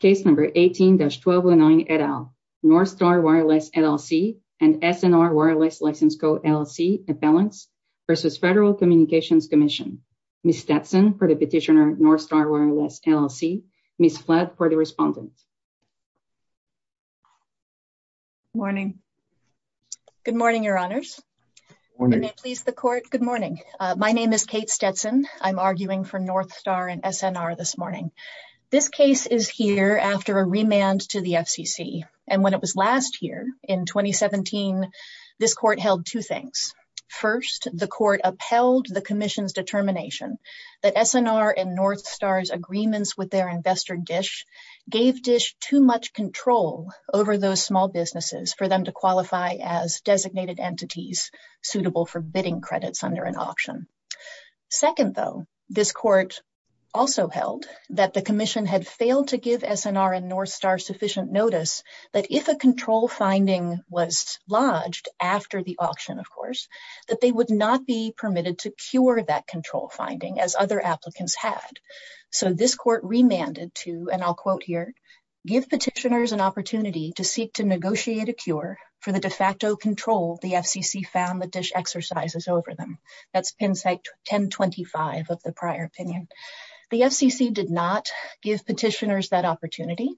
Case No. 18-1209 et al., Northstar Wireless, LLC and SNR Wireless License Co., LLC, Appellants v. Federal Communications Commission. Ms. Stetson for the petitioner, Northstar Wireless, LLC. Ms. Slaad for the respondent. Morning. Good morning, Your Honors. Good morning. May it please the court. Good morning. My name is Kate Stetson. I'm arguing for Northstar and SNR this morning. This case is here after a remand to the FCC, and when it was last here in 2017, this court held two things. First, the court upheld the commission's determination that SNR and Northstar's agreements with their investor, DISH, gave DISH too much control over those small businesses for them to qualify as designated entities suitable for bidding credits under an auction. Second, though, this court also held that the commission had failed to give SNR and Northstar sufficient notice that if a control finding was lodged after the auction, of course, that they would not be permitted to cure that control finding as other applicants had. So this court remanded to, and I'll quote here, give petitioners an opportunity to seek to negotiate a cure for the de facto control the FCC found that DISH exercises over them. That's pen site 1025 of the prior opinion. The FCC did not give petitioners that opportunity.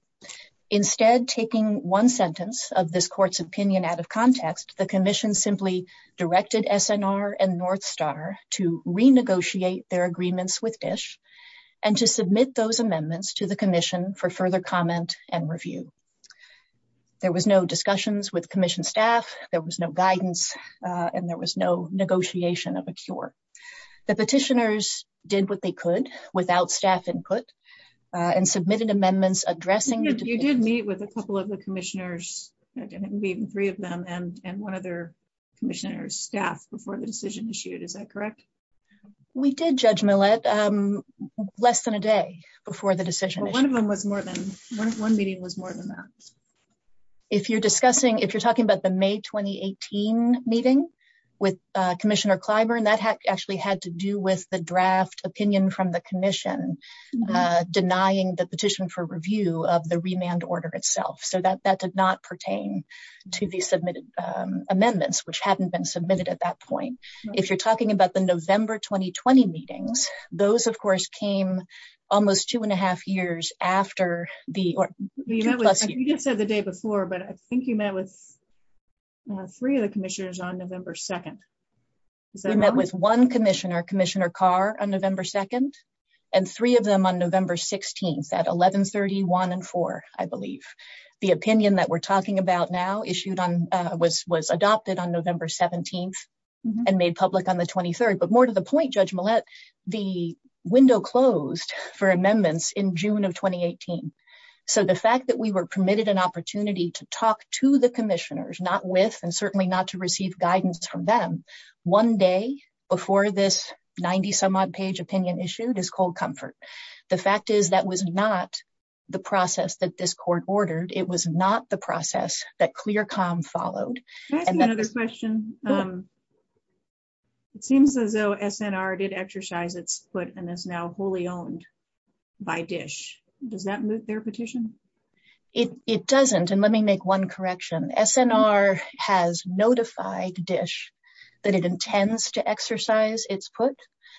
Instead, taking one sentence of this court's opinion out of context, the commission simply directed SNR and Northstar to renegotiate their agreements with DISH and to submit those amendments to the commission for further comment and review. There was no discussions with commission staff, there was no guidance, and there was no negotiation of a cure. The petitioners did what they could without staff input and submitted amendments addressing- Yes, you did meet with a couple of the commissioners, I believe three of them, and one of their commissioners' staff before the decision was issued. Is that correct? We did, Judge Millett, less than a day before the decision. One of them was more than, one meeting was more than that. If you're discussing, if you're talking about the May 2018 meeting with Commissioner Clyburn, that actually had to do with the draft opinion from the commission denying the petition for review of the remand order itself. So that did not pertain to the amendments which hadn't been approved. The amendments which did pertain to the November 2020 meetings, those, of course, came almost two and a half years after the- You just said the day before, but I think you met with three of the commissioners on November 2nd. You met with one commissioner, Commissioner Carr, on November 2nd, and three of them on November 16th at 1130, one, and four, I believe. The opinion that we're talking about now issued on, was adopted on November 17th and made public on the 23rd, but more to the point, Judge Millett, the window closed for amendments in June of 2018. So the fact that we were permitted an opportunity to talk to the commissioners, not with, and certainly not to receive guidance from them, one day before this 90-some-odd page opinion issued is cold comfort. The fact is that was not the process that this court ordered. It was not the process that ClearComm followed. I have another question. It seems as though SNR did exercise its put and is now wholly owned by DISH. Does that move their petition? It doesn't, and let me make one correction. SNR has notified DISH that it intends to exercise its put,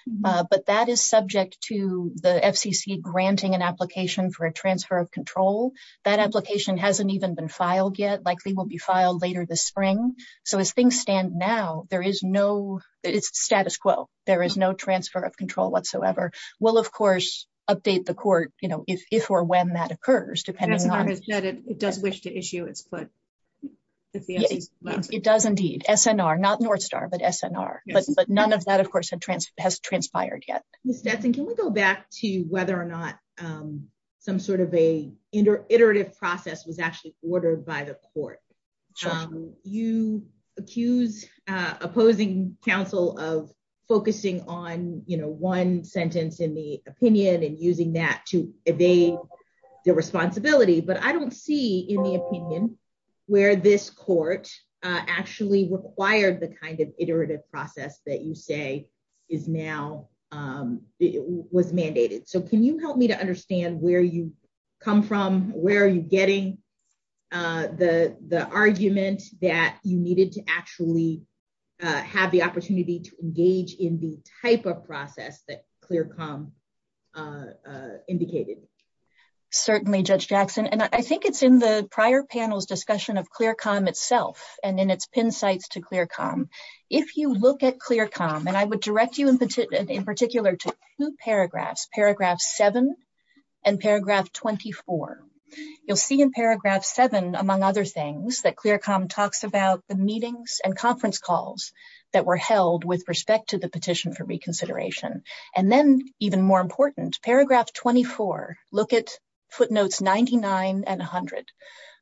but that is subject to the FCC granting an application for a transfer of control. That application hasn't even been filed yet, likely will be filed later this spring. So as things stand now, there is no, it's status quo, there is no transfer of control whatsoever. We'll, of course, update the court, you know, if or when that occurs, depending on... SNR has said it does wish to issue its put. It does indeed. SNR, not NorthStar, but SNR, but none of that, of course, has transpired yet. Ms. Nesson, can we go back to whether or not some sort of an iterative process was actually ordered by the court? You accuse opposing counsel of focusing on, you know, one sentence in the opinion and using that to evade their responsibility, but I don't see in the opinion where this court actually required the kind of iterative process that you say is now was mandated. So can you help me to understand where you come from, where are you getting the argument that you needed to actually have the opportunity to engage in the type of process that ClearComm indicated? Certainly, Judge Jackson, and I think it's in the prior panel's discussion of ClearComm itself and in its pin sites to ClearComm. If you look at ClearComm, and I would direct you in particular to two paragraphs, paragraph 7 and paragraph 24. You'll see in paragraph 7, among other things, that ClearComm talks about the meetings and conference calls that were held with respect to the petition for reconsideration. And then, even more important, paragraph 24, look at footnotes 99 and 100.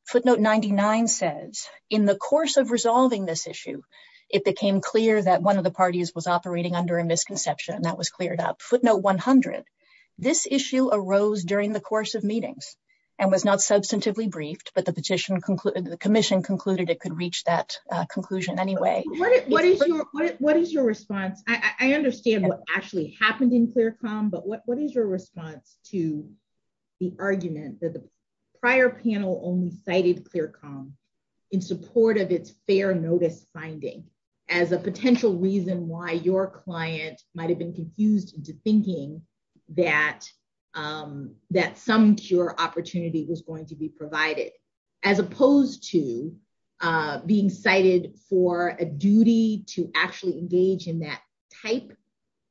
Footnote 99 says, in the course of resolving this issue, it became clear that one of the parties was operating under a misconception. That was cleared up. Footnote 100, this issue arose during the course of meetings and was not substantively briefed, but the petition concluded, the commission concluded, it could reach that conclusion anyway. What is your response? I understand what actually happened in ClearComm, but what is your response to the argument that the prior panel only cited ClearComm in support of its fair notice finding as a potential reason why your client might have been confused into thinking that some cure opportunity was going to be provided, as opposed to being cited for a duty to actually engage in that type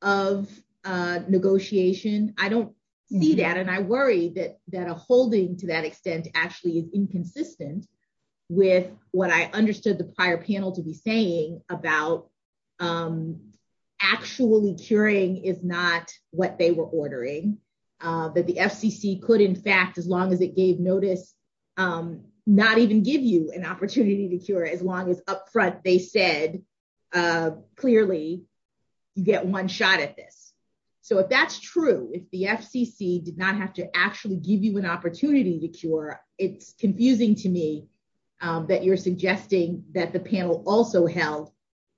of negotiation? I don't see that, and I worry that a holding to that extent actually is inconsistent with what I understood the prior panel to be saying about actually curing, if not what they were ordering, that the FCC could, in fact, as long as it gave notice, not even give you an opportunity to cure, as long as up front they said clearly, you get one shot at this. So if that's true, if the FCC did not have to actually give you an opportunity to cure, it's confusing to me that you're suggesting that the panel also held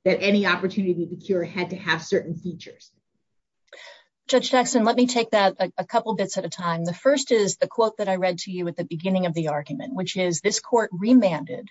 that any opportunity to cure had to have certain features. Judge Jackson, let me take that a couple bits at a time. The first is the quote that I read to you at the beginning of the argument, which is, this court remanded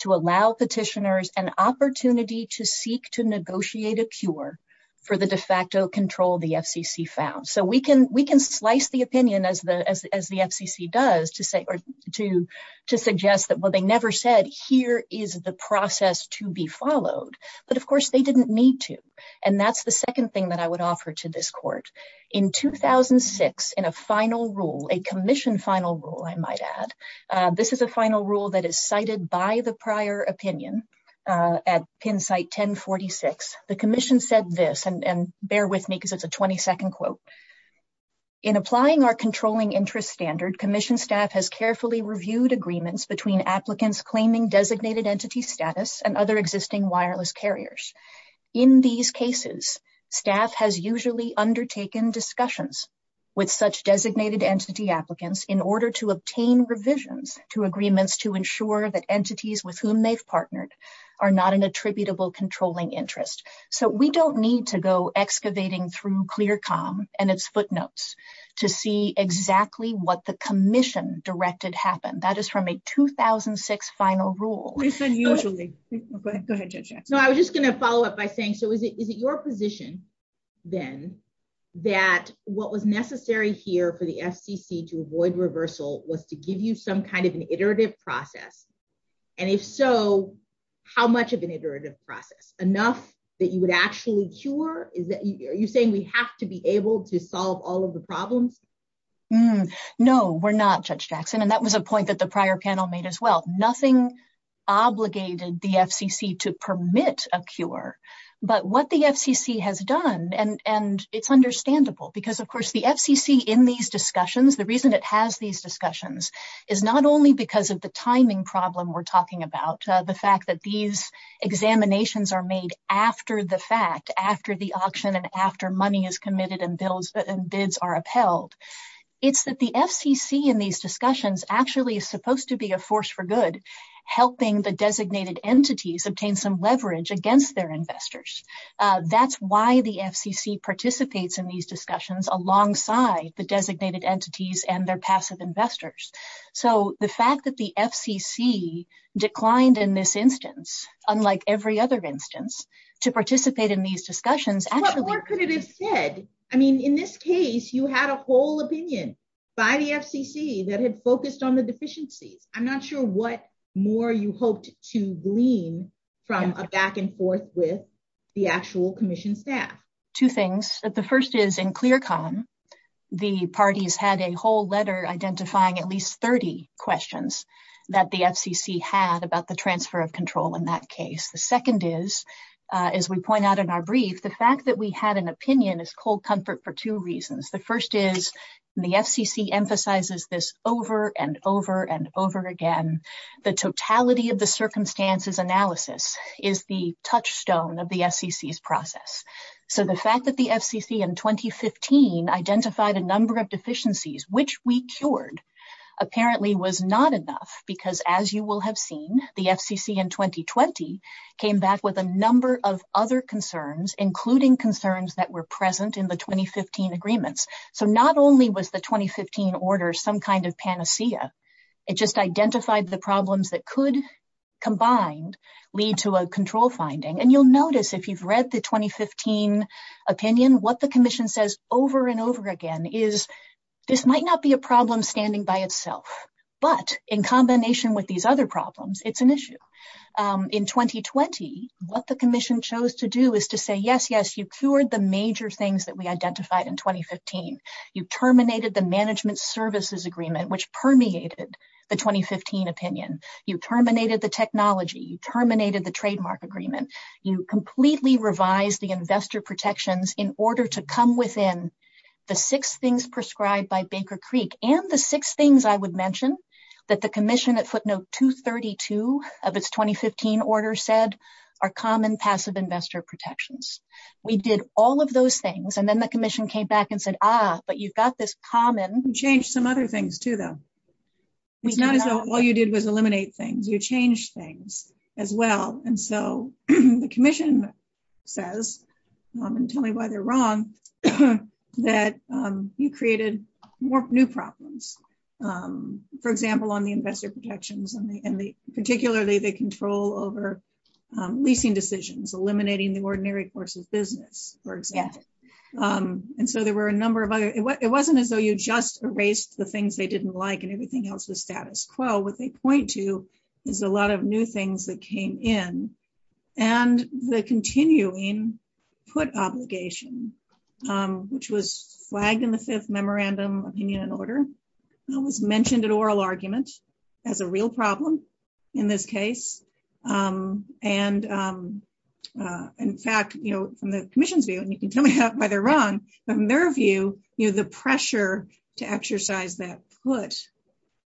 to allow petitioners an opportunity to seek to negotiate a cure for the de facto control the FCC found. So we can slice the opinion as the FCC does to suggest that, well, they never said here is the process to be followed, but of course they didn't need to. And that's the second thing that I would offer to this court. In 2006, in a final rule, a commission final rule, I might add, this is a final rule that is cited by the prior opinion at pin site 1046. The commission said this, and bear with me because it's a 22nd quote. In applying our controlling interest standard, commission staff has carefully reviewed agreements between applicants claiming designated entity status and other existing wireless carriers. In these cases, staff has usually undertaken discussions with such designated entity applicants in order to obtain revisions to agreements to ensure that entities with whom they've partnered are not an attributable controlling interest. So we don't need to go excavating through ClearComm and its footnotes to see exactly what the commission directed happened. That is from a 2006 final rule. I was just going to follow up by saying, so is it your position then that what was necessary here for the FCC to avoid reversal was to give you some kind of an iterative process? And if so, how much of an iterative process? Enough that you would actually cure? Are you saying we have to be able to solve all of the problems? No, we're not, Judge Jackson, and that was a point that the prior panel made as well. Nothing obligated the FCC to permit a cure, but what the FCC has done, and it's understandable because, of course, the FCC in these discussions, the reason it has these discussions is not only because of the timing problem we're talking about, the fact that these examinations are made after the fact, after the auction and after money is committed and bids are upheld, it's that the FCC in these discussions actually is supposed to be a force for good, helping the designated entities obtain some leverage against their investors. That's why the FCC participates in these discussions alongside the designated entities and their passive investors. So the fact that the FCC declined in this instance, unlike every other instance, to participate in these discussions... What more could it have said? I mean, in this case, you had a whole opinion by the FCC that had focused on the deficiencies. I'm not sure what more you hoped to glean from a back and forth with the actual commission staff. Two things. The first is, in ClearCom, the parties had a whole letter identifying at least 30 questions that the FCC had about the transfer of control in that case. The second is, as we point out in our brief, the fact that we had an opinion is cold comfort for two reasons. The first is, the FCC emphasizes this over and over and over again. The totality of the circumstances analysis is the touchstone of the FCC's process. So the fact that the FCC in 2015 identified a number of deficiencies, which we cured, apparently was not enough. Because as you will have seen, the FCC in 2020 came back with a number of other concerns, including concerns that were present in the 2015 agreements. So not only was the 2015 order some kind of panacea, it just identified the problems that could, combined, lead to a control finding. And you'll notice, if you've read the 2015 opinion, what the commission says over and over again is, this might not be a problem standing by itself, but in combination with these other problems, it's an issue. In 2020, what the commission chose to do is to say, yes, yes, you cured the major things that we identified in 2015. You terminated the management services agreement, which permeated the 2015 opinion. You terminated the technology. You terminated the trademark agreement. You completely revised the investor protections in order to come within the six things prescribed by Baker Creek, and the six things I would mention that the commission at footnote 232 of its 2015 order said are common passive investor protections. We did all of those things, and then the commission came back and said, ah, but you've got this common... You changed some other things too, though. Not all you did was tell me why they're wrong, that you created more new problems. For example, on the investor protections, and particularly the control over leasing decisions, eliminating the ordinary course of business, for example. And so there were a number of other... It wasn't as though you just erased the things they didn't like and everything else was status quo. What they point to is a lot of new things that came in, and the continuing put obligation, which was flagged in the fifth memorandum of union order, and it was mentioned in oral arguments as a real problem in this case. In fact, from the commission's view, and you can tell me why they're wrong, from their view, the pressure to exercise that foot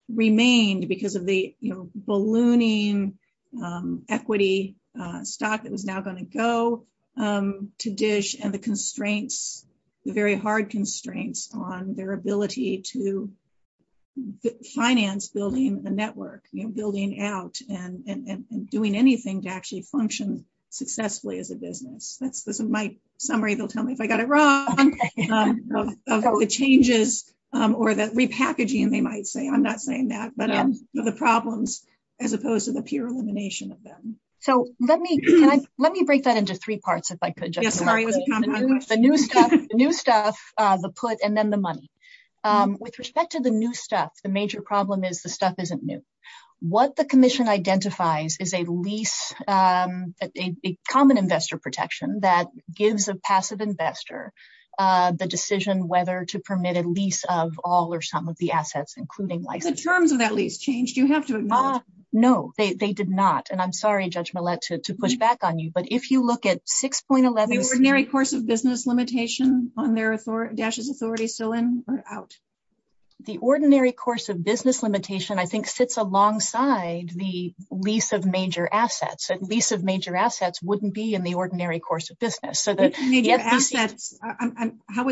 remained because of the ballooning equity stock that was now going to go to dish and the constraints, the very hard constraints on their ability to finance building a network, building out and doing anything to actually function successfully as a business. This is my summary. They'll tell me if I got it wrong, the changes, or the repackaging, they might say. I'm not saying that, but the problems, as opposed to the pure elimination of them. So let me break that into three parts, if I could. The new stuff, the put, and then the money. With respect to the new stuff, the major problem is stuff isn't new. What the commission identifies is a lease, a common investor protection that gives a passive investor the decision whether to permit a lease of all or some of the assets, including license. The terms of that lease changed, you have to admit. No, they did not, and I'm sorry, Judge Millett, to push back on you, but if you look at 6.11. The ordinary course of business limitation on their authority, Dash's authority, still in or out? The ordinary course of business limitation, I think, sits alongside the lease of major assets. A lease of major assets wouldn't be in the ordinary course of business. How would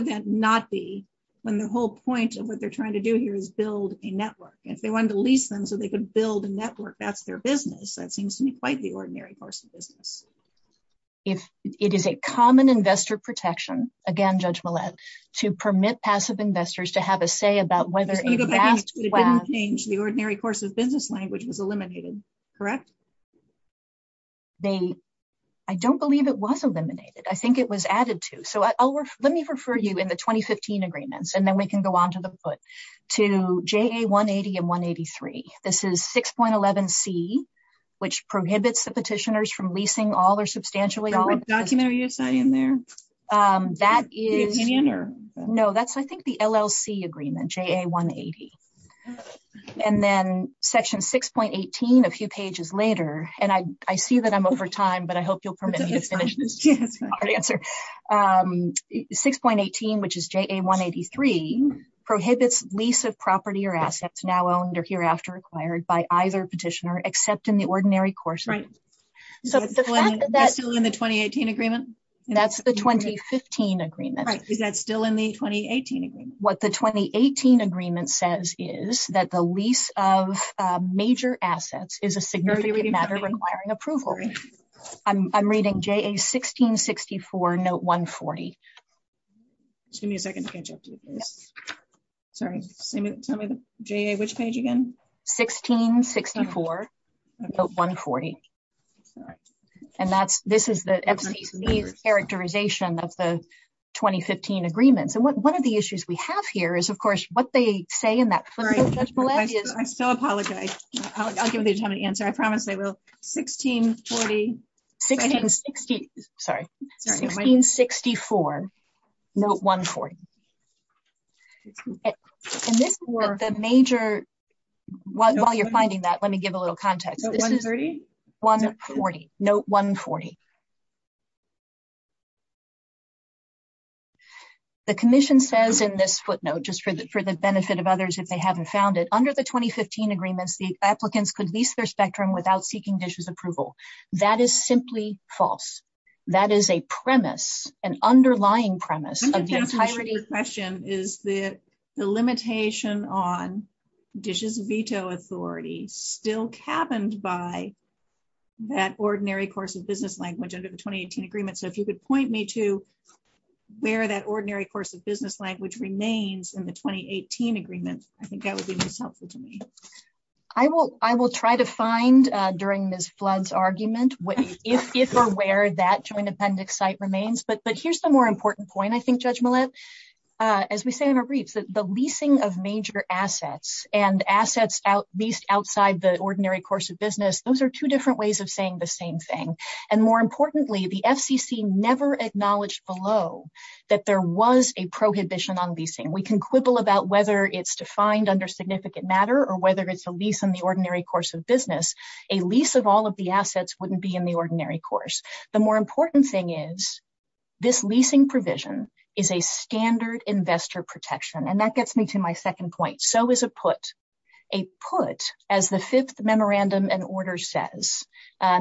that not be when the whole point of what they're trying to do here is build a network? If they wanted to lease them so they could build a network, that's their business. That seems to me quite the ordinary course of business. It is a common investor protection, again, Judge Millett, to permit passive investors to have a say about whether... It didn't change. The ordinary course of business language was eliminated, correct? I don't believe it was eliminated. I think it was added to. Let me refer you in the 2015 agreements, and then we can go on to the foot, to JA180 and 183. This is 6.11c, which prohibits the petitioners from leasing all or substantially all... What's that in there? That is... No, that's, I think, the LLC agreement, JA180. And then section 6.18, a few pages later, and I see that I'm over time, but I hope you'll permit me to finish this. 6.18, which is JA183, prohibits lease of property or assets now owned or hereafter acquired by either petitioner except in the ordinary course of business. That's still in the 2018 agreement? That's the 2015 agreement. Right, so that's still in the 2018 agreement. What the 2018 agreement says is that the lease of major assets is a significant matter requiring approval. I'm reading JA1664, note 140. Give me a second to catch up to this. Sorry. JA, which page again? 1664, note 140. And that's... This is the... Characterization of the 2015 agreement. One of the issues we have here is, of course, what they say in that... Sorry, I'm so apologetic. I'll give you a minute. JA1664, note 140. And this was a major... While you're finding that, let me give a little context. 140? 140, note 140. The commission says in this footnote, just for the benefit of others if they haven't found it, under the 2015 agreements, the applicants could lease their spectrum without seeking DISH's approval. That is simply false. That is a premise, an underlying premise. I think the entirety of the question is that the limitation on DISH's veto authority still happened by that ordinary course of business language under the 2018 agreement. So if you could point me to where that ordinary course of business language remains in the 2018 agreement, I think that would be most helpful to me. I will try to find during Ms. Flood's argument what, if or where, that joint appendix site remains. But here's the more important point, I think, Judge Millett. As we say on our briefs, the leasing of major assets and assets leased outside the ordinary course of business, those are two different ways of saying the same thing. And more importantly, the FCC never acknowledged below that there was a prohibition on leasing. We can quibble about whether it's defined under significant matter or whether it's a lease on the ordinary course of business. A lease of all of the assets wouldn't be in the ordinary course. The more important thing is this leasing provision is a standard investor protection. And that gets me to my second point. So is a put. A put, as the Fifth Memorandum and Order says,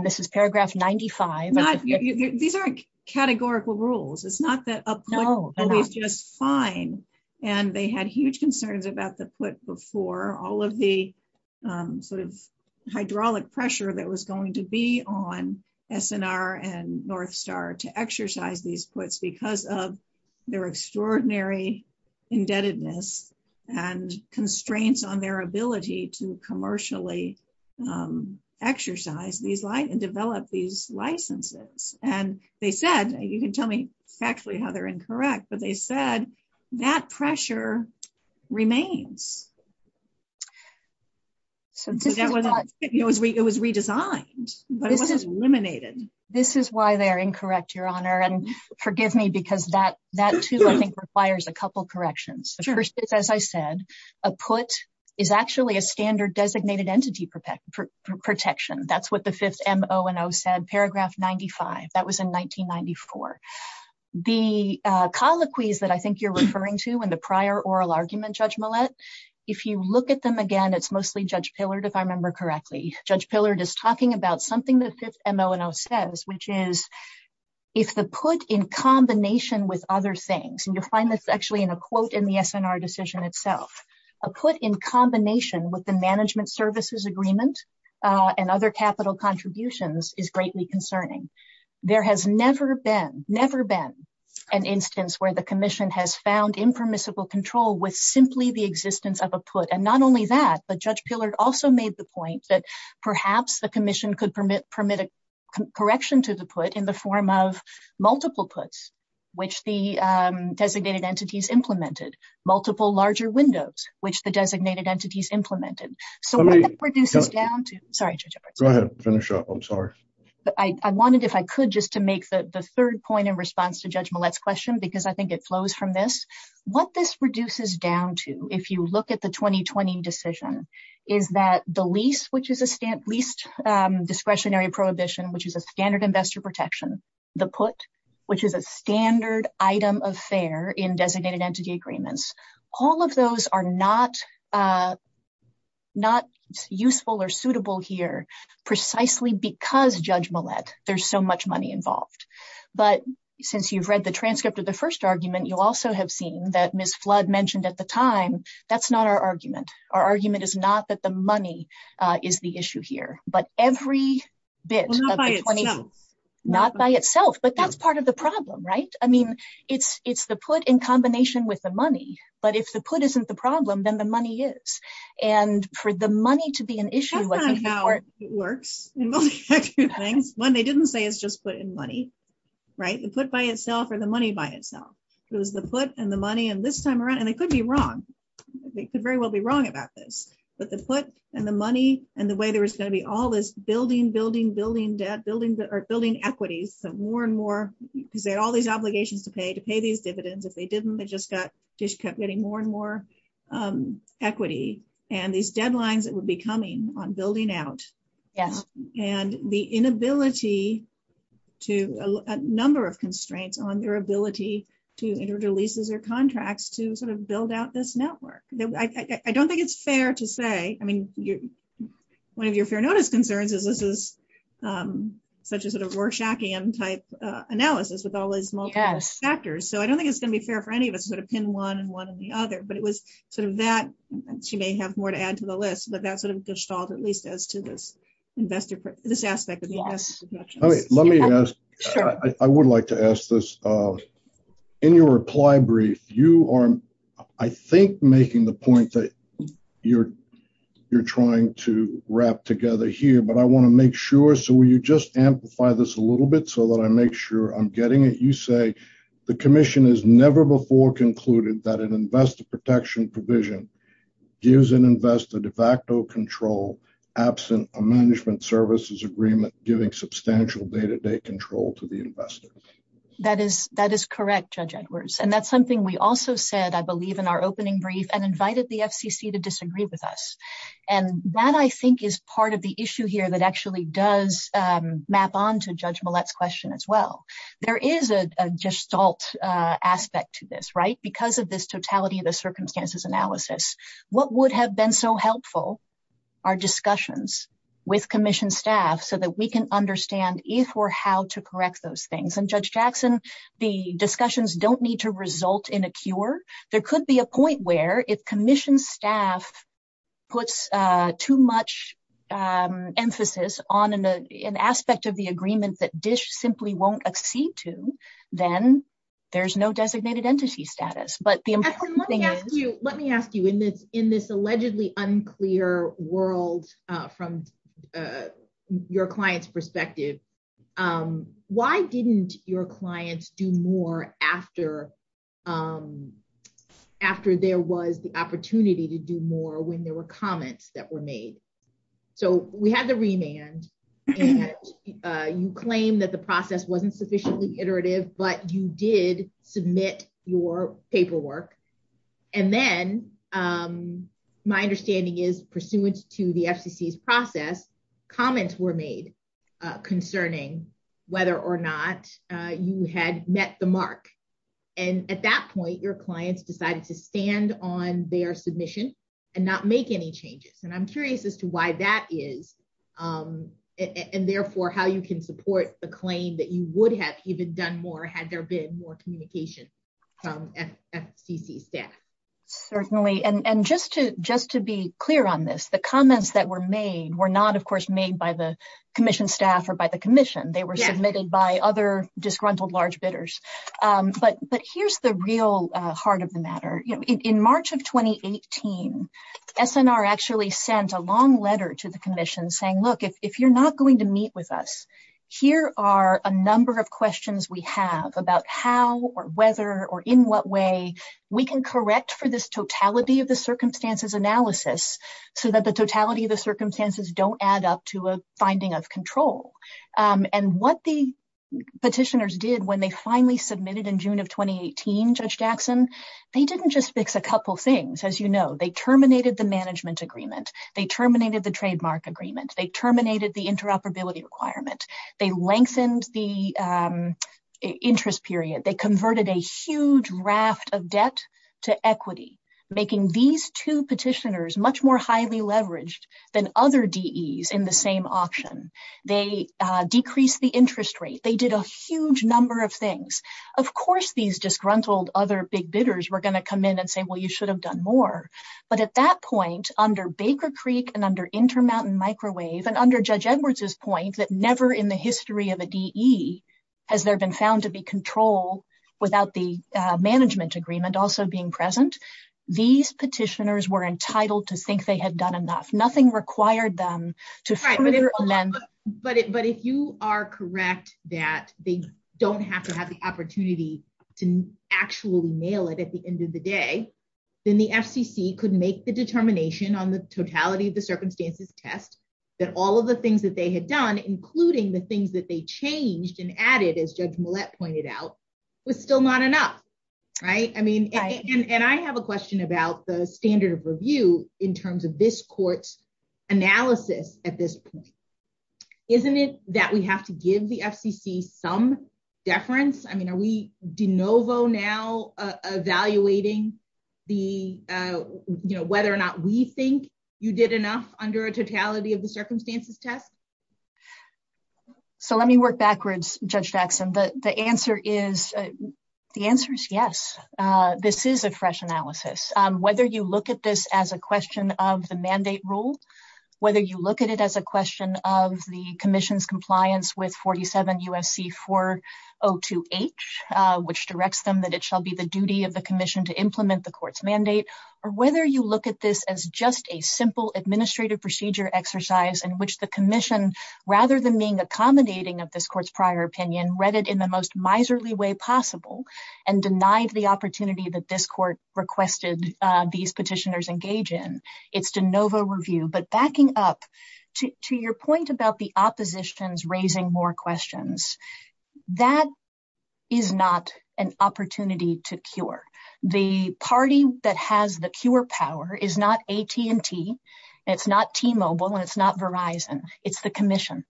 this is paragraph 95. These aren't categorical rules. It's not that a put is just fine. And they had huge concerns about the put before. All of the sort of hydraulic pressure that was going to be on SNR and North Star to exercise these puts because of their extraordinary indebtedness and constraints on their ability to commercially exercise and develop these licenses. And they said, you can tell me actually how they're incorrect, but they said that pressure remains. It was redesigned, but it was eliminated. This is why they're incorrect, Your Honor. And forgive me because that too, I think, requires a couple of corrections. First, as I said, a put is actually a standard designated entity protection. That's what the Fifth M-O-N-O said, paragraph 95. That was in 1994. The colloquies that I think you're referring to in the prior oral argument, Judge Millett, if you look at them again, it's mostly Judge Pillard, if I remember correctly. Judge Pillard is talking about something that Fifth M-O-N-O says, which is if the put in combination with other things, and you'll find this actually in a quote in the SNR decision itself, a put in combination with the management services agreement and other capital contributions is greatly concerning. There has never been an instance where the commission has found impermissible control with simply the existence of a put. And not only that, but Judge Pillard also made the point that perhaps the commission could permit a correction to the put in the form of multiple puts, which the designated entities implemented, multiple larger windows, which the designated entities implemented. So what this reduces down to, sorry, Judge Edwards. Go ahead. Finish up. I'm sorry. I wanted, if I could, just to make the third point in response to Judge Millett's question, because I think it flows from this. What this reduces down to, if you look at the 2020 decision, is that the lease, which is a lease discretionary prohibition, which is a standard investor protection, the put, which is a standard item of fare in designated entity agreements, all of those are not useful or suitable here precisely because, Judge Millett, there's so much money involved. But since you've read the transcript of the first argument, you also have seen that Ms. Flood mentioned at the time, that's not our argument. Our argument is not that the money is the issue here, but every bit. Not by itself. Not by itself, but that's part of the problem, right? I mean, it's the put in combination with the money, but if the put isn't the problem, then the money is. And for the money to be an issue. That's kind of how it works in most of your things. One, they didn't say it's just put in money, right? The put by itself or the money by itself. So it's the put and the money, and this time around, and they could be wrong. They could very well be wrong. But the put and the money, and the way there was going to be all this building, building, building debt, building equities, more and more, because they had all these obligations to pay, to pay these dividends. If they didn't, they just kept getting more and more equity. And these deadlines that would be coming on building out. And the inability to, a number of constraints on their ability to enter leases or contracts to sort of build out this network. I don't think it's fair to say, I mean, one of your fair notice concerns is this is such a sort of Rorschachian type analysis with all these multiple factors. So I don't think it's going to be fair for any of us to sort of pin one and one and the other, but it was sort of that, she may have more to add to the list, but that sort of dished out at least as to this investor, this aspect of the investment. All right. Let me ask, I would like to ask this, in your reply brief, you are, I think making the point that you're trying to wrap together here, but I want to make sure, so will you just amplify this a little bit so that I make sure I'm getting it. You say the commission has never before concluded that an investor protection provision gives an investor de facto control absent a management services agreement giving substantial day-to-day control to the investors. That is correct, Judge Edwards. And that's something we also said, I believe in our opening brief and invited the FCC to disagree with us. And that I think is part of the issue here that actually does map onto Judge Millett's question as well. There is a gestalt aspect to this, right? Because of this totality of the circumstances analysis, what would have been so helpful are discussions with commission staff so that we can understand if or how to correct those things. And Judge Jackson, the discussions don't need to result in a cure. There could be a point where if commission staff puts too much emphasis on an aspect of the agreement that DISH simply won't accede to, then there's no designated entity status. Let me ask you, in this allegedly unclear world from your client's perspective, why didn't your clients do more after there was the opportunity to do more when there were comments that were made? So we had the remand and you claimed that the process wasn't sufficiently iterative, but you did submit your paperwork. And then my understanding is pursuant to the FCC's process, comments were made concerning whether or not you had met the mark. And at that point, your clients decided to stand on their submission and not make any changes. And I'm curious as to why that is and therefore how you can support the claim that you would have even done more had there been more communication from FCC staff. Certainly. And just to be clear on this, the comments that were made were not, of course, made by the commission staff or by the commission. They were submitted by other disgruntled large bidders. But here's the real heart of the matter. In March of 2018, SNR actually sent a long letter to the commission saying, look, if you're not going to meet with us, here are a number of questions we have about how or whether or in what way we can correct for this totality of the circumstances analysis so that the totality of the circumstances don't add up to a finding of control. And what the petitioners did when they finally submitted in June of 2018, Judge Jackson, they didn't just fix a couple things. As you know, they terminated the management agreement. They terminated the trademark agreement. They terminated the interoperability requirement. They lengthened the interest period. They converted a huge raft of debt to equity, making these two petitioners much more highly leveraged than other DEs in the same auction. They decreased the interest rate. They did a huge number of things. Of course, these disgruntled other big bidders were going to come in and say, well, you should have done more. But at that point, under Baker Creek and under Intermountain Microwave and under Judge Edwards's point that never in the history of a DE has there been found to be control without the management agreement also being present, these petitioners were entitled to think they had done enough. Nothing required them to... Right. But if you are correct that they don't have to have the opportunity to actually mail it at the end of the day, then the FCC could make the determination on the totality of the circumstances test that all of the things that they had done, including the things that they changed and added as Judge Millett pointed out, was still not enough, right? And I have a question about the standard of review in terms of this court's analysis at this point. Isn't it that we have to give the FCC some deference? I mean, are we de novo now evaluating whether or not we think you did enough under a totality of the circumstances test? So let me work backwards, Judge Jackson. The answer is yes. This is a fresh analysis. Whether you look at this as a question of the mandate rule, whether you look at it as a question of the commission's compliance with 47 U.S.C. 402H, which directs them that it shall be the duty of the commission to implement the court's mandate, or whether you look at this as just a simple administrative procedure exercise in which the commission, rather than being accommodating of this court's prior opinion, read it in the most miserly way possible and denied the opportunity that this court requested these petitioners engage in. It's de novo review, but backing up to your point about the opposition's raising more questions, that is not an opportunity to cure. The party that has the cure power is not AT&T, it's not T-Mobile, and it's not Verizon. It's the commission.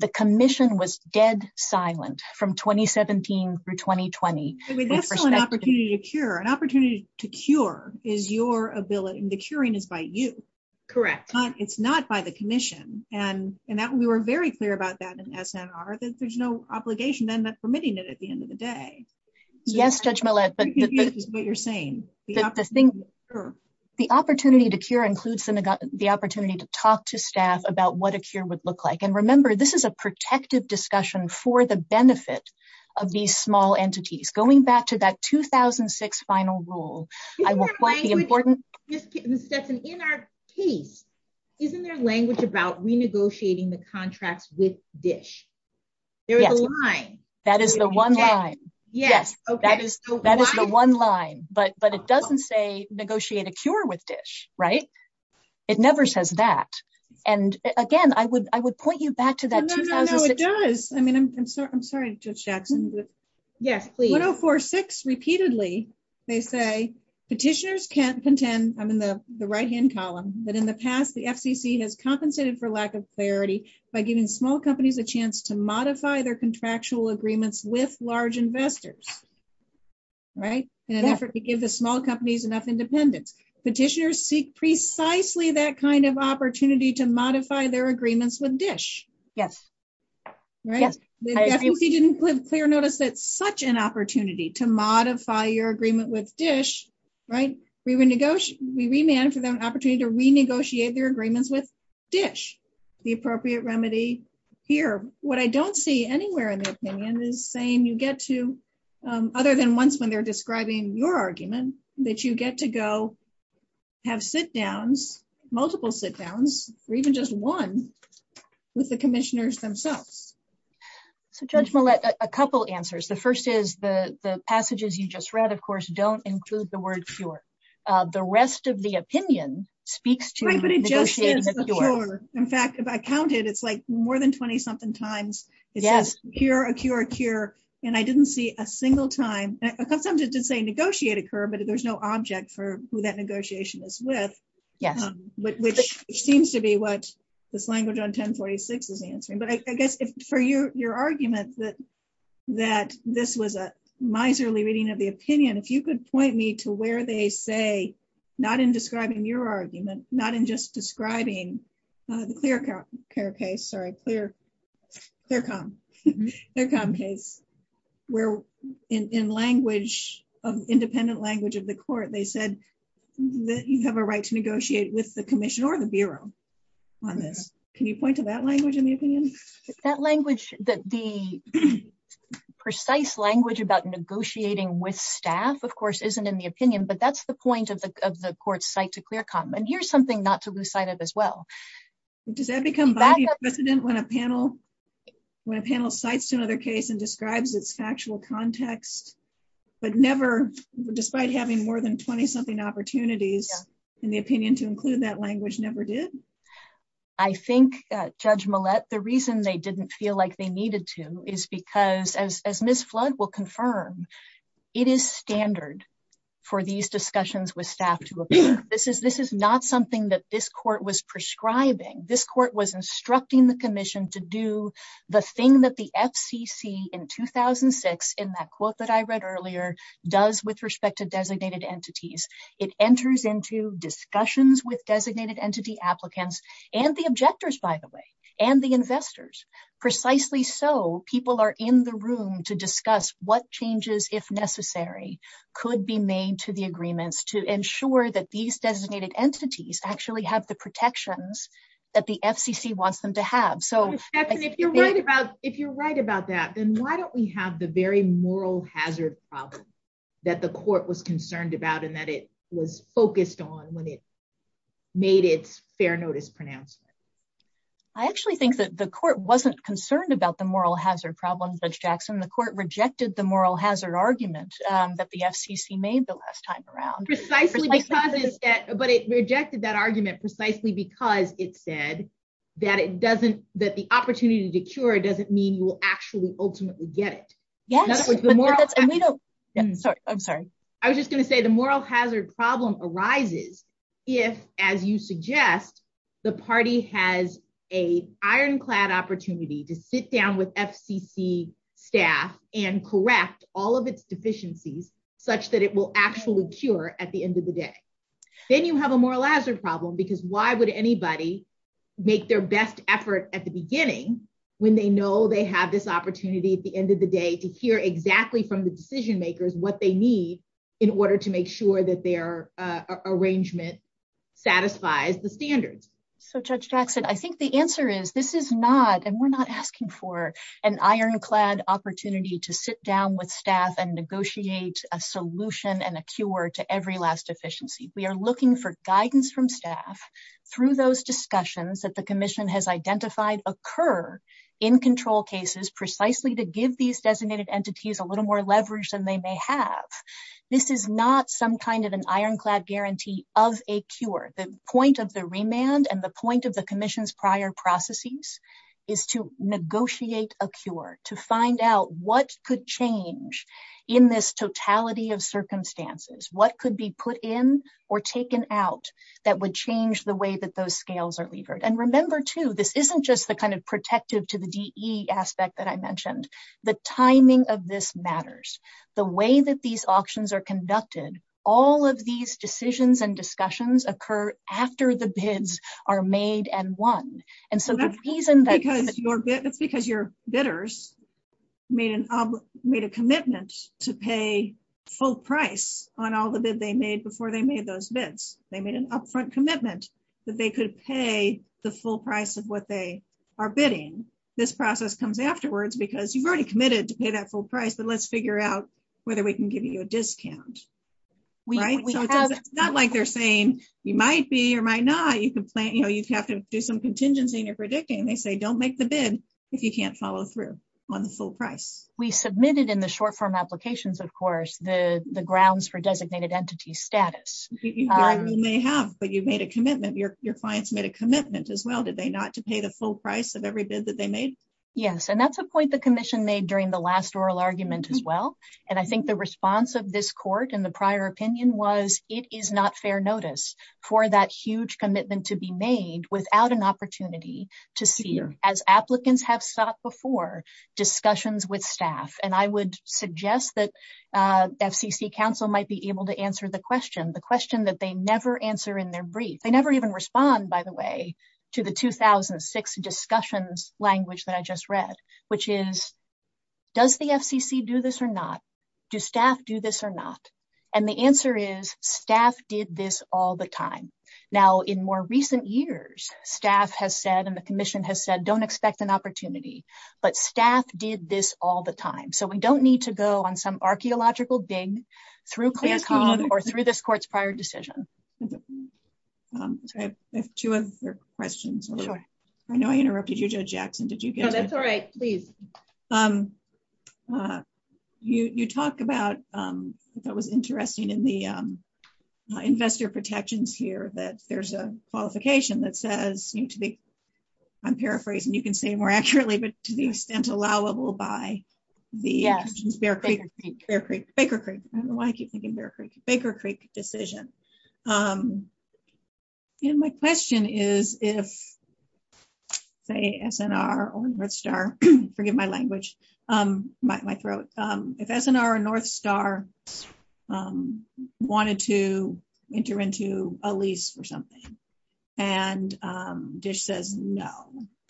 The commission was dead silent from 2017 through 2020. I mean, that's still an opportunity to cure. An opportunity to cure is your ability, and the curing is by you. Correct. It's not by the commission, and we were very clear about that in SNR. There's no obligation. I'm not permitting it at the end of the day. Yes, Judge Millett. I can't hear what you're saying. The opportunity to cure includes the opportunity to talk to staff about what a cure would look like. Remember, this is a protective discussion for the benefit of these small entities. Going back to that 2006 final rule, I will point the important- Stephanie, in our case, isn't there language about renegotiating the contract with DISH? There is a line. Yes, that is the one line. Yes, that is the one line, but it doesn't say negotiate a cure with DISH, right? It never says that. Again, I would point you back to that- No, no, no, it does. I mean, I'm sorry, Judge Jackson. Yes, please. 1046, repeatedly, they say, petitioners can't contend, I'm in the right-hand column, that in the past, the FCC has compensated for lack of clarity by giving small companies a contractual agreement with large investors, right, in an effort to give the small companies enough independence. Petitioners seek precisely that kind of opportunity to modify their agreements with DISH, right? The FCC didn't put clear notice that such an opportunity to modify your agreement with DISH, right? We renegotiated an opportunity to renegotiate their agreements with DISH, the appropriate remedy here. What I don't see anywhere in the opinion is saying you get to, other than once when they're describing your argument, that you get to go have sit-downs, multiple sit-downs, or even just one with the commissioners themselves. Judge Millett, a couple answers. The first is the passages you just read, of course, don't include the word cure. The rest of the opinion speaks to- In fact, if I counted, it's like more than 20-something times. It's just a cure, a cure, a cure, and I didn't see a single time. Sometimes it did say negotiate a curve, but there's no object for who that negotiation is with, which seems to be what this language on 1046 is answering. But I guess for your argument that this was a miserly reading of the opinion, if you could point me to where they say, not in describing your argument, not in just describing the ClearCom case, where in language, independent language of the court, they said that you have a right to negotiate with the commission or the bureau on this. Can you point to that language in the opinion? That language, the precise language about negotiating with staff, of course, isn't in the opinion, but that's the point of the court's site ClearCom. And here's something not to lose sight of as well. Does that become vice president when a panel cites another case and describes its factual context, but never, despite having more than 20-something opportunities in the opinion to include that language, never did? I think, Judge Millett, the reason they didn't feel like they needed to is because, as Ms. Flood will confirm, it is standard for these discussions with staff to be held in the open. Because this is not something that this court was prescribing. This court was instructing the commission to do the thing that the FCC in 2006, in that quote that I read earlier, does with respect to designated entities. It enters into discussions with designated entity applicants, and the objectors, by the way, and the investors. Precisely so, people are in the room to discuss what changes, if necessary, could be made to the agreements to ensure that these designated entities actually have the protections that the FCC wants them to have. So if you're right about that, then why don't we have the very moral hazard problem that the court was concerned about and that it was focused on when it made its fair notice pronouncement? I actually think that the court wasn't concerned about the moral hazard problem, Judge Jackson. The court rejected the moral hazard argument that the FCC made the last time around. Precisely because it said, but it rejected that argument precisely because it said that it doesn't, that the opportunity to cure doesn't mean you will actually ultimately get it. Yes. I'm sorry. I was just going to say the moral hazard problem arises if, as you suggest, the party has an ironclad opportunity to sit down with FCC staff and correct all of its deficiencies such that it will actually cure at the end of the day. Then you have a moral hazard problem because why would anybody make their best effort at the beginning when they know they have this opportunity at the end of the day to hear exactly from the decision makers what they need in order to make sure that their arrangement satisfies the standards? So, Judge Jackson, I think the answer is this is not, and we're not asking for, an ironclad opportunity to sit down with staff and negotiate a solution and a cure to every last deficiency. We are looking for guidance from staff through those discussions that the commission has identified occur in control cases precisely to give these designated entities a little more leverage than they may have. This is not some kind of an ironclad guarantee of a cure. The point of the remand and the point of the commission's prior processes is to negotiate a cure, to find out what could change in this totality of circumstances, what could be put in or taken out that would change the way that those scales are revered. Remember, too, this isn't just protective to the DE aspect that I mentioned. The timing of this matters. The way that these auctions are conducted, all of these decisions and discussions occur after the bids are made and won. Because your bidders made a commitment to pay full price on all the bids they made before they made those bids. They made an upfront commitment that they could pay the full price of what they are bidding. This process comes afterwards because you've already committed to pay that full price, but let's figure out whether we can give you a discount. It's not like they're saying you might be or might not. You have to do some contingency in your predicting. They say don't make the bid if you can't follow through on the full price. We submitted in the short-form applications, of course, the grounds for designated entity status. You may have, but you made a commitment. Your clients made a commitment as well, did they, not to pay the full price of every bid that they made? Yes. That's a point the commission made during the last oral argument as well. I think the response of this court in the prior opinion was it is not fair notice for that huge commitment to be made without an opportunity to see, as applicants have sought before, discussions with staff. I would suggest that FCC counsel might be able to answer the question. They never answer in their brief. They never even respond, by the way, to the 2006 discussions language that I just read, which is does the FCC do this or not? Do staff do this or not? The answer is staff did this all the time. Now, in more recent years, staff has said and the commission has said don't expect an opportunity, but staff did this all the time. We don't need to go on some archaeological dig or through this court's prior decision. I have two other questions. I know I interrupted you, Judge Jackson. No, that's all right. Please. You talked about what was interesting in the investor protections here that there's a qualification that says, I'm paraphrasing, you can say more accurately, but to the extent allowable by the Baker Creek decision. My question is if, say, SNR or North Star, forgive my language, my throat, if SNR or North Star wanted to enter into a lease or something and DISH says no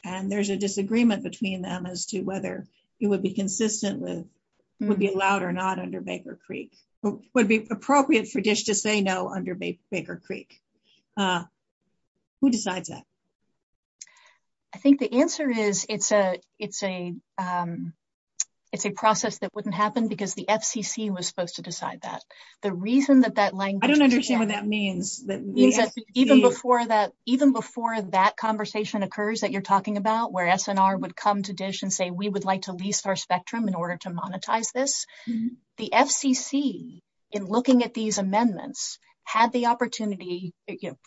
and there's a disagreement between them as to whether it would be consistent with would be allowed or not under Baker Creek. Would it be appropriate for DISH to say no under Baker Creek? Who decides that? I think the answer is it's a process that wouldn't happen because the FCC was supposed to decide that. The reason that that language. I don't understand what that means. Even before that conversation occurs that you're talking about where SNR would come to DISH and say we would like to lease our spectrum in order to monetize this. The FCC, in looking at these amendments, had the opportunity.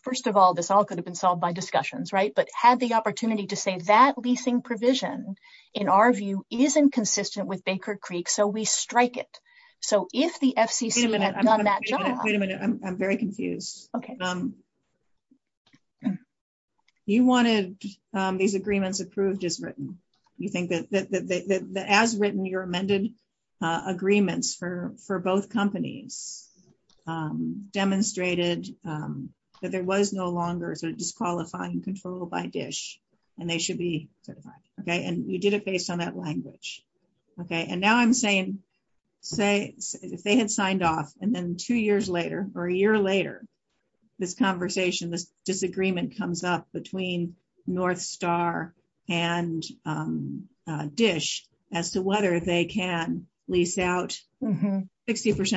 First of all, this all could have been solved by discussions, right? But had the opportunity to say that leasing provision, in our view, isn't consistent with Baker Creek. So, we strike it. So, if the FCC has done that. Wait a minute. I'm very confused. You wanted these agreements approved as written. You think that as written, your amended agreements for both companies demonstrated that there was no longer a disqualifying control by DISH. And now I'm saying if they had signed off and then two years later or a year later, this conversation, this disagreement comes up between North Star and DISH as to whether they can lease out 60%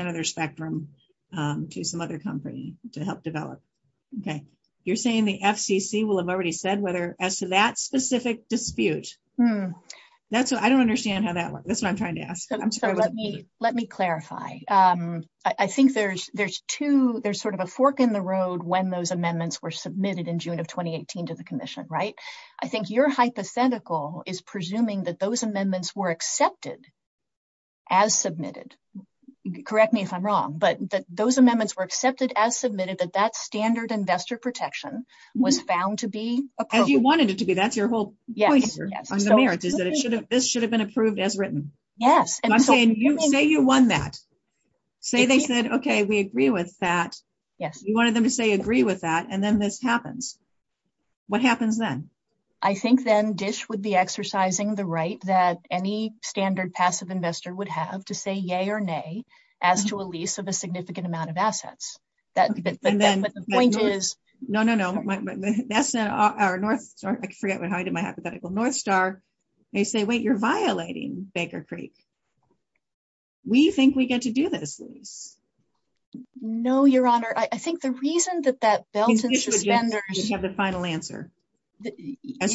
of their spectrum to some other company to help develop. You're saying the FCC will have already said whether as to that specific dispute. I don't understand how that works. That's what I'm trying to ask. Let me clarify. I think there's two, there's sort of a fork in the road when those amendments were submitted in June of 2018 to the Commission, right? I think your hypothetical is presuming that those amendments were accepted as submitted. Correct me if I'm wrong, but that those amendments were accepted as submitted, that that standard investor protection was found to be appropriate. And you wanted it to be. That's your point on the merits, is that this should have been approved as written. Yes. I'm saying you may have won that. Say they said, okay, we agree with that. Yes. You wanted them to say agree with that. And then this happens. What happens then? I think then DISH would be exercising the right that any standard passive investor would have to say yay or nay as to a lease of a significant amount of assets. No, no, no. I forget how I did my hypothetical. Northstar, they say, wait, you're violating Baker Creek. We think we get to do this. No, Your Honor. I think the reason that that belt and suspenders have the final answer,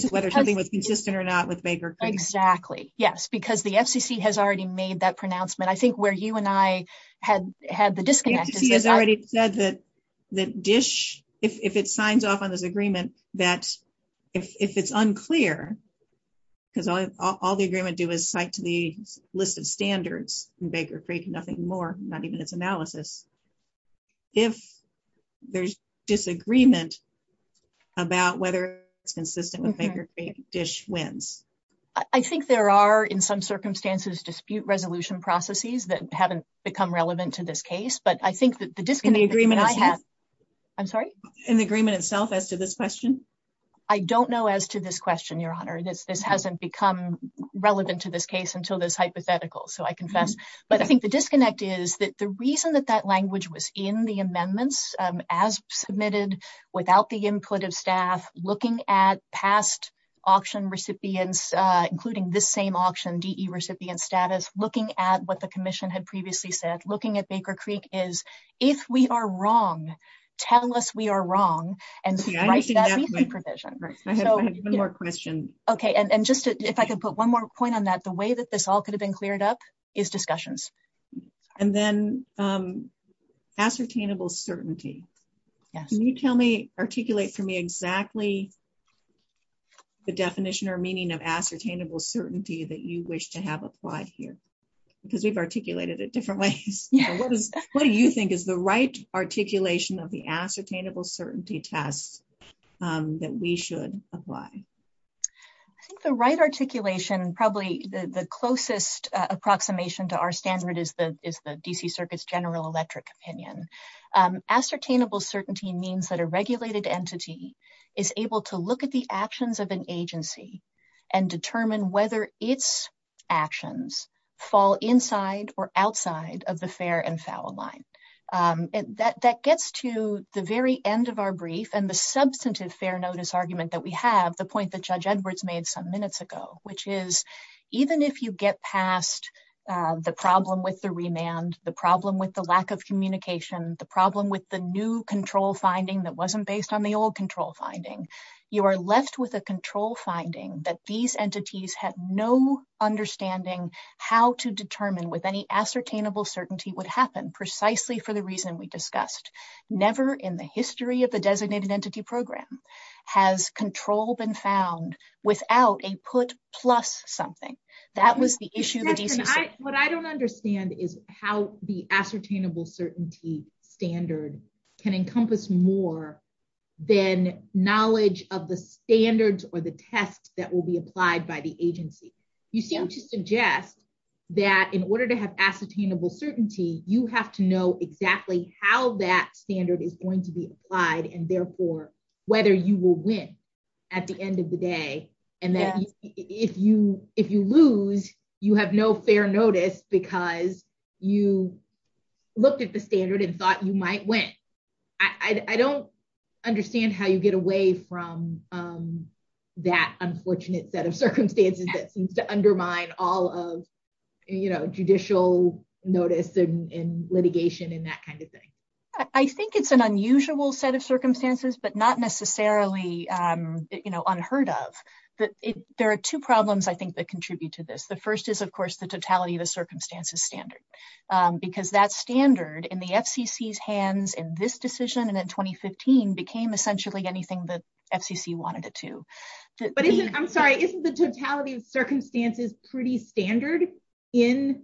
whether something was consistent or not with Baker Creek. Exactly. Yes. Because the FCC has already made that pronouncement. I think where you and I had the disconnect. He's already said that DISH, if it signs off on this agreement, that if it's unclear, because all the agreement do is cite to the list of standards in Baker Creek, nothing more, not even its analysis. If there's disagreement about whether it's consistent with Baker Creek, DISH wins. I think there are, in some circumstances, dispute resolution processes that haven't become relevant to this case. But I think that the disconnect. I'm sorry? In the agreement itself as to this question? I don't know as to this question, Your Honor. This hasn't become relevant to this case until this hypothetical. So I confess. But I think the disconnect is that the reason that that language was in the amendments as submitted without the input of staff, looking at past auction recipients, including this same auction DE recipient status, looking at what the commission had previously said, looking at Baker Creek is, if we are wrong, tell us we are wrong. Okay. And just if I could put one more point on that, the way that this all could have been cleared up is discussions. And then ascertainable certainty. Can you tell me, articulate for me exactly the definition or meaning of ascertainable certainty that you wish to have applied here? Because we've articulated it different ways. What do you think is the right articulation of the ascertainable certainty test that we should apply? I think the right articulation, probably the closest approximation to our standard, is the DC Circuit's general electric opinion. Ascertainable certainty means that a regulated entity is able to look at the actions of an agency and determine whether its actions fall inside or outside of the fair and foul line. That gets to the very end of our brief and the substantive fair notice argument that we have, the point that Judge Edwards made some minutes ago, which is even if you get past the problem with the remand, the problem with the lack of communication, the problem with the new control finding that wasn't based on the old control finding, you are left with a control finding that these entities had no understanding how to determine with any ascertainable certainty would happen precisely for the reason we discussed. Never in the history of a designated entity program has control been found without a put plus something. That was the issue. What I don't understand is how the ascertainable certainty standard can encompass more than knowledge of the standards or the tests that will be applied by the agency. You seem to suggest that in order to have ascertainable certainty, you have to know exactly how that standard is going to be applied and therefore whether you will win at the end of day. If you lose, you have no fair notice because you looked at the standard and thought you might win. I don't understand how you get away from that unfortunate set of circumstances that undermine all of judicial notice and litigation and that kind of thing. I think it's an unusual set of circumstances but not necessarily unheard of. There are two problems I think that contribute to this. The first is of course the totality of the circumstances standard because that standard in the FCC's hands in this decision and in 2015 became essentially anything that FCC wanted it to. I'm sorry, isn't the totality of circumstances pretty standard in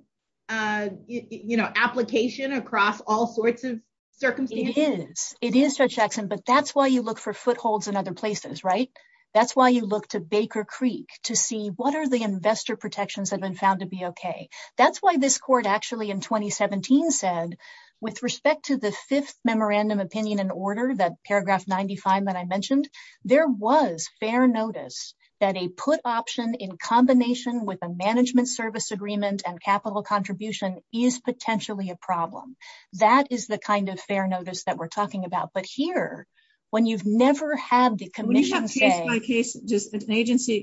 application across all sorts of circumstances? It is. It is such action but that's why you look for footholds in other places, right? That's why you look to Baker Creek to see what are the investor protections have been found to be okay. That's why this court actually in 2017 said with respect to the fifth memorandum opinion and order, that paragraph 95 that I mentioned, there was fair notice that a put option in combination with a management service agreement and capital contribution is potentially a problem. That is the kind of fair notice that we're talking about. But here, when you've never had the commission say...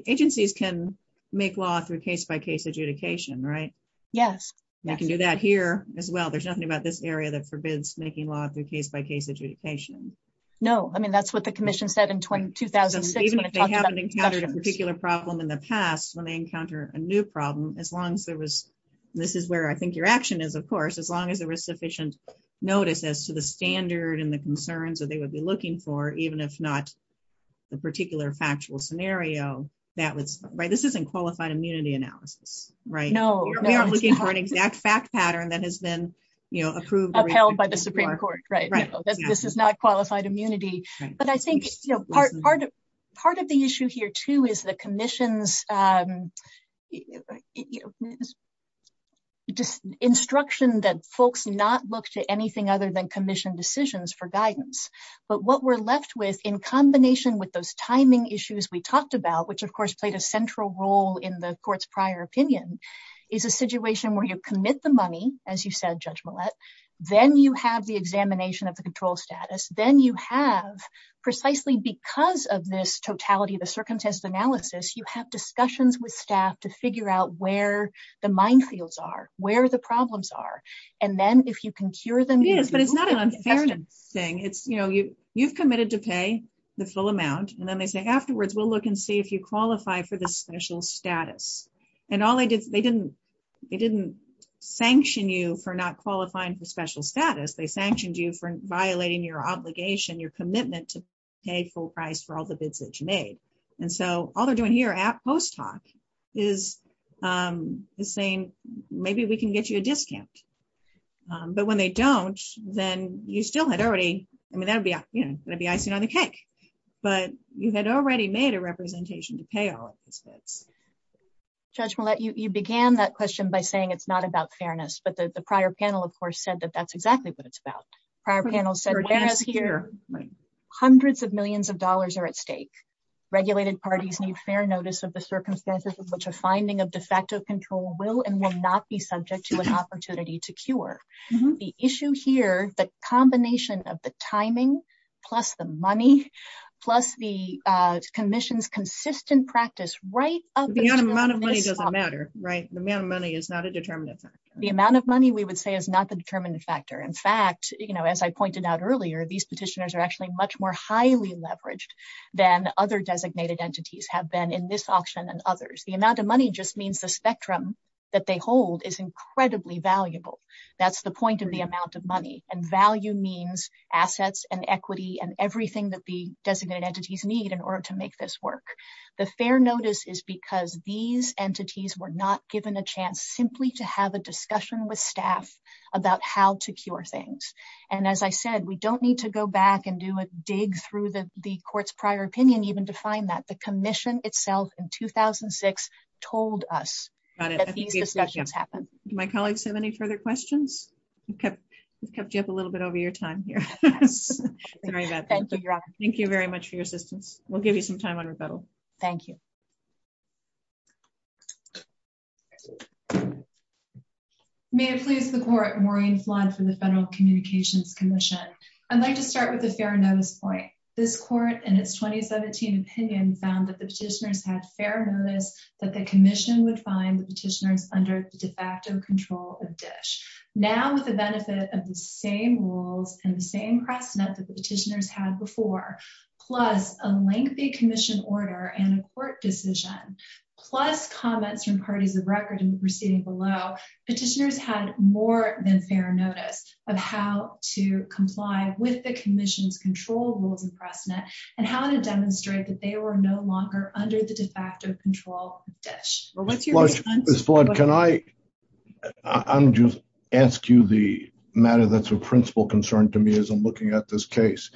Agencies can make law through case-by-case adjudication, right? Yes. You can do that here as well. There's nothing about this area that forbids making law through case-by-case adjudication. No. I mean, that's what the commission said in 2006. Even if they haven't encountered a particular problem in the past, when they encounter a new problem, as long as there was... This is where I think your action is, of course. As long as there was sufficient notice as to the standard and the concerns that they would be looking for, even if not the particular factual scenario that was... This isn't qualified immunity analysis, right? We are looking for an exact fact pattern that has been approved... This is not qualified immunity. But I think part of the issue here, too, is the commission's instruction that folks not look to anything other than commission decisions for guidance. But what we're left with, in combination with those timing issues we talked about, which of course played a central role in the court's prior opinion, is a situation where you commit the money, as you said, Judge Millett, then you have the examination of the control status, then you have, precisely because of this totality, the circumstance analysis, you have discussions with staff to figure out where the minefields are, where the problems are. And then if you can cure them... Yes, but it's not an unfair thing. You've committed to pay the full amount, and then they say, afterwards, we'll look and see if you qualify for this special status. And they didn't sanction you for not qualifying for special status. They sanctioned you for violating your obligation, your commitment to pay full price for all the bids that you made. And so all they're doing here at post hoc is saying, maybe we can get you a discount. But when they don't, then you still had already... I mean, that'd be icing on the cake. But you had already made a representation to pay all of this stuff. Judge Millett, you began that question by saying it's not about fairness, but the prior panel, of course, said that that's exactly what it's about. Prior panel said... Hundreds of millions of dollars are at stake. Regulated parties need fair notice of the circumstances in which a finding of defective control will and will not be subject to an amendment. And so the amount of money just means the spectrum that they hold is incredibly valuable. That's the point of the amount of money. And value means assets and equity and everything that the designated entities need in order to make this work. The fair notice is because these entities were not given a chance simply to have a discussion with staff about how to cure things. And as I said, we don't need to go back and do a dig through the court's prior opinion even to find that. The commission itself in 2006 told us that these discussions happened. Do my colleagues have any further questions? We've kept you up a little bit over your time here. Very good. Thank you very much for your assistance. We'll give you some time on rebuttal. Thank you. May it please the court, Maureen Flores for the Federal Communications Commission. I'd like to start with a fair notice point. This court in its 2017 opinion found that the petitioners had fair notice that the commission would find the petitioners under control of DISH. Now with the benefit of the same rules and the same press net that the petitioners had before, plus a lengthy commission order and a court decision, plus comments from parties of record in the proceeding below, the petitioners had more than fair notice of how to comply with the commission's control rules and press net and how to demonstrate that they were no longer under the de facto control of DISH. Ms. Flood, can I just ask you the matter that's a principal concern to me as I'm looking at this case.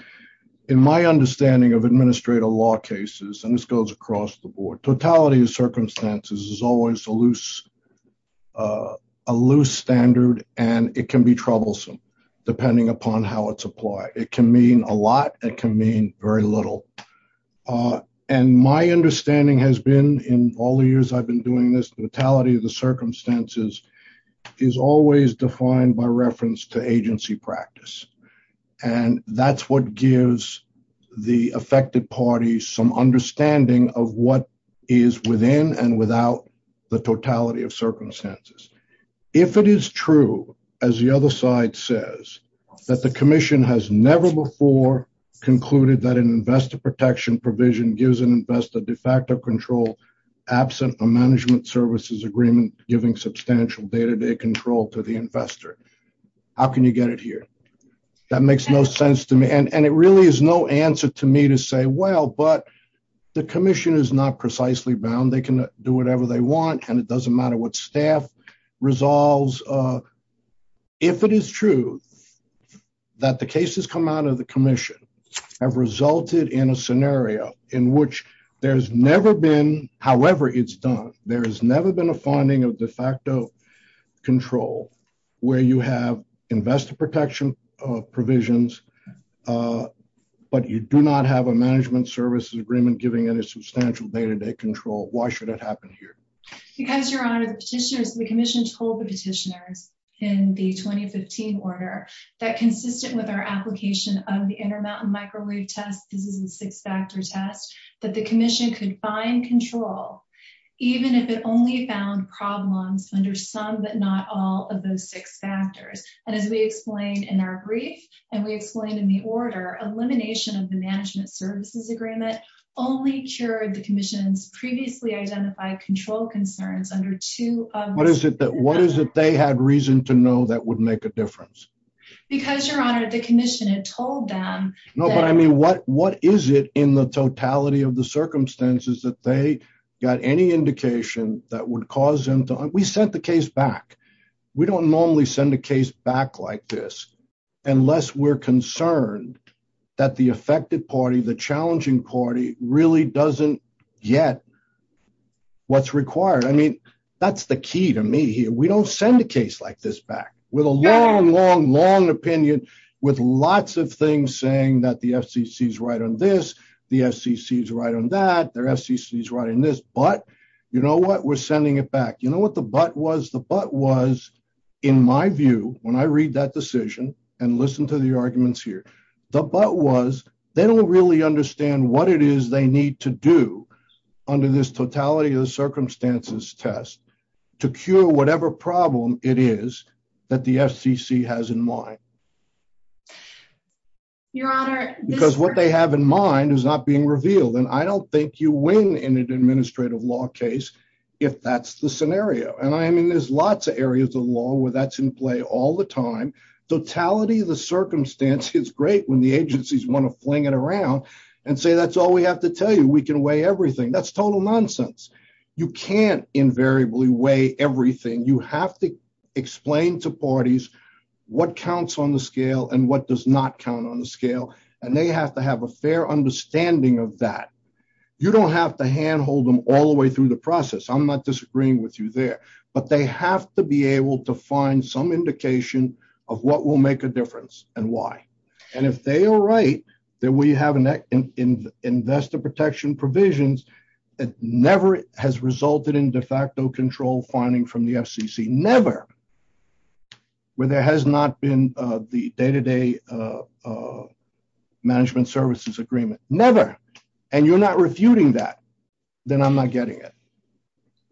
In my understanding of administrative law cases, and this goes across the board, totality of circumstances is always a loose standard and it can be troublesome depending upon how it's applied. It can mean a lot. It can mean very little. And my understanding has been in all the years I've been doing this, the totality of the circumstances is always defined by reference to agency practice. And that's what gives the affected party some understanding of what is within and without the totality of circumstances. If it is true, as the other side says, that the commission has never before concluded that an investor protection provision gives an investor de facto control absent a management services agreement, giving substantial day-to-day control to the investor. How can you get it here? That makes no sense to me. And it really is no answer to me to say, well, but the commission is not precisely bound. They can do whatever they want. And it doesn't have resulted in a scenario in which there's never been, however it's done, there has never been a finding of de facto control where you have investor protection provisions, but you do not have a management services agreement giving any substantial day-to-day control. Why should it happen here? Because your honor, the commission told the petitioner in the 2015 order that consistent with our application of the Intermountain Microwave Test, the six-factor test, that the commission could find control, even if it only found problems under some, but not all of those six factors. And as we explained in our brief, and we explained in the order, elimination of the management services agreement only cured the commission's previously identified control concerns under two of- What is it they had reason to know that would make a difference? Because your honor, the commission had told them- No, but I mean, what is it in the totality of the circumstances that they got any indication that would cause them to, we sent the case back. We don't normally send a case back like this, unless we're concerned that the affected party, the challenging party really doesn't yet know what's required. I mean, that's the key to me here. We don't send a case like this back with a long, long, long opinion, with lots of things saying that the FCC's right on this, the FCC's right on that, the FCC's right on this, but you know what? We're sending it back. You know what the but was? The but was, in my view, when I read that decision and listen to the arguments here, the but was they don't really understand what it is they need to do under this totality of the circumstances test to cure whatever problem it is that the FCC has in mind. Your honor- Because what they have in mind is not being revealed. And I don't think you win in an administrative law case if that's the scenario. And I mean, there's lots of areas of law where that's in play all the time. Totality of the circumstance is great when the agencies want to fling it around and say, that's all we have to tell you. We can weigh everything. That's total nonsense. You can't invariably weigh everything. You have to explain to parties what counts on the scale and what does not count on the scale. And they have to have a fair understanding of that. You don't have to handhold them all the way through the process. I'm not disagreeing with you there, but they have to be able to find some indication of what will make a difference and why. And if they are right, that we have investor protection provisions that never has resulted in de facto control finding from the FCC, never, where there has not been the day-to-day management services agreement, never. And you're not refuting that, then I'm not getting it.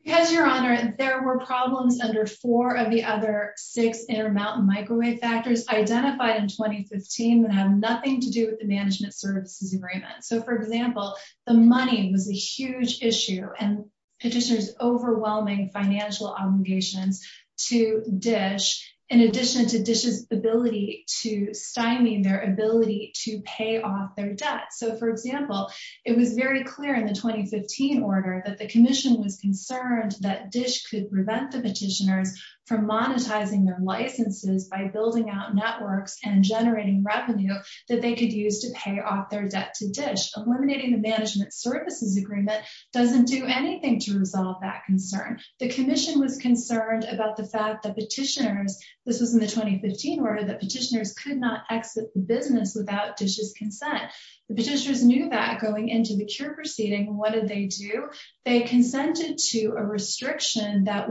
Yes, your honor. And there were problems under four of the other six intermountain microwave factors identified in 2015 that have nothing to do with the management services agreement. So for example, the money was a huge issue and petitioners overwhelming financial obligations to DISH, in addition to DISH's ability to signing their ability to pay off their debts. So for example, it was very clear in the 2015 order that the commission was concerned that DISH could prevent the petitioners from monetizing their licenses by building out networks and generating revenue that they could use to pay off their debt to DISH. Eliminating the management services agreement doesn't do anything to resolve that concern. The commission was concerned about the fact that petitioners, this was in the 2015 order, that petitioners could not exit the business without DISH's consent. The petitioners knew that going into a mature proceeding, what did they do? They consented to a restriction that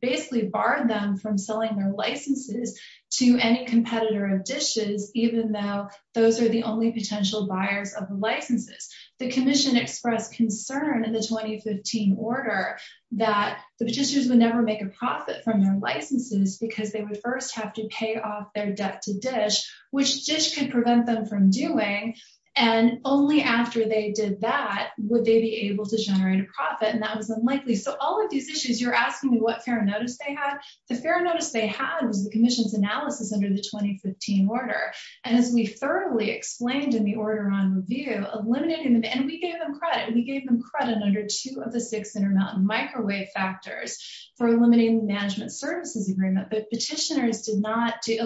basically barred them from selling their licenses to any competitor of DISH's, even though those are the only potential buyers of the licenses. The commission expressed concern in this 2015 order that the petitioners would never make a profit from their licenses because they would first have to pay off their debt to and only after they did that would they be able to generate a profit, and that was unlikely. So all of these issues, you're asking me what fair notice they had. The fair notice they had was the commission's analysis under the 2015 order, and as we thoroughly explained in the order on review, eliminating, and we gave them credit, we gave them credit under two of the six intermountain microwave factors for eliminating the management services agreement, but petitioners did not see did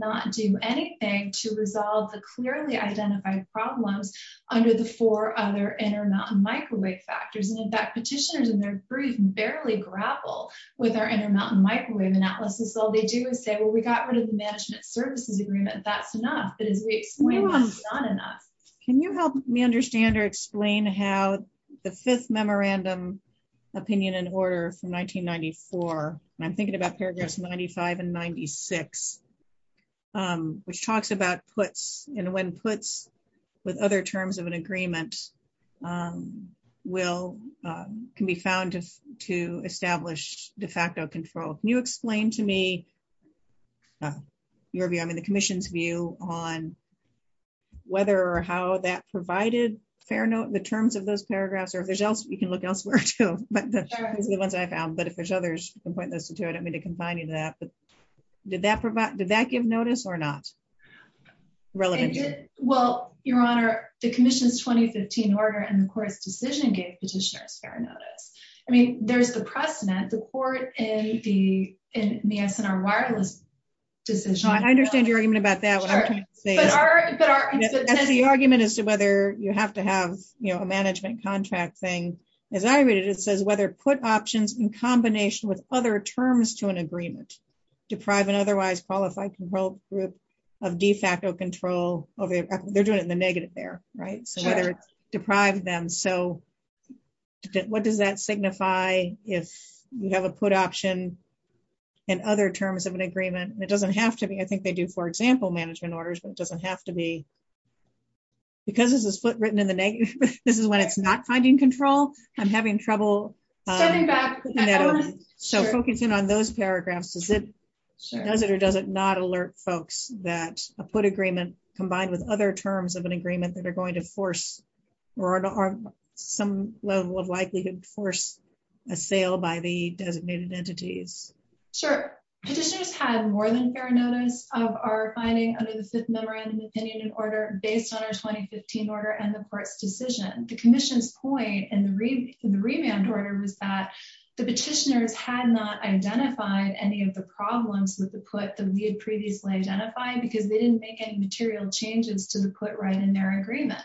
not do anything to resolve the clearly identified problems under the four other intermountain microwave factors, and in fact, petitioners in their brief barely grapple with our intermountain microwave analysis. All they do is say, well, we got rid of the management services agreement, that's enough, but as we explain, it's not enough. Can you help me understand or explain how the fifth memorandum opinion and order from 1994, I'm thinking about paragraphs 95 and 96, which talks about puts and when puts with other terms of an agreement can be found to establish de facto control. Can you explain to me your view, I mean the commission's view, on whether or how that provided fair note, the terms of those paragraphs, or if there's else, you can look elsewhere too, but that's the only ones I found, but if there's others, I don't mean to confine you to that, but did that provide, did that give notice or not? Well, your honor, the commission's 2015 order and the court's decision gave petitioner a fair notice. I mean, there's the precedent, the court in the SNR wireless decision. I understand your argument about that. The argument as to whether you have to have, you know, a management contract thing, as I read it, it says whether put options in combination with other terms to an agreement, deprive an otherwise qualified control group of de facto control, they're doing it in the negative there, right? Deprive them. So, what does that signify if you have a put option and other terms of an agreement? It doesn't have to be, I think they do, for example, management orders, but it I'm having trouble. So, focusing on those paragraphs, does it or does it not alert folks that a put agreement combined with other terms of an agreement that they're going to force or are some level of likely to force a sale by the designated entities? Sure. The commission's had more than fair notice of our finding under the SIP number and opinion in order based on our order and the court's decision. The commission's point in the revamped order was that the petitioners had not identified any of the problems with the put that we had previously identified because they didn't make any material changes to the put right in their agreement.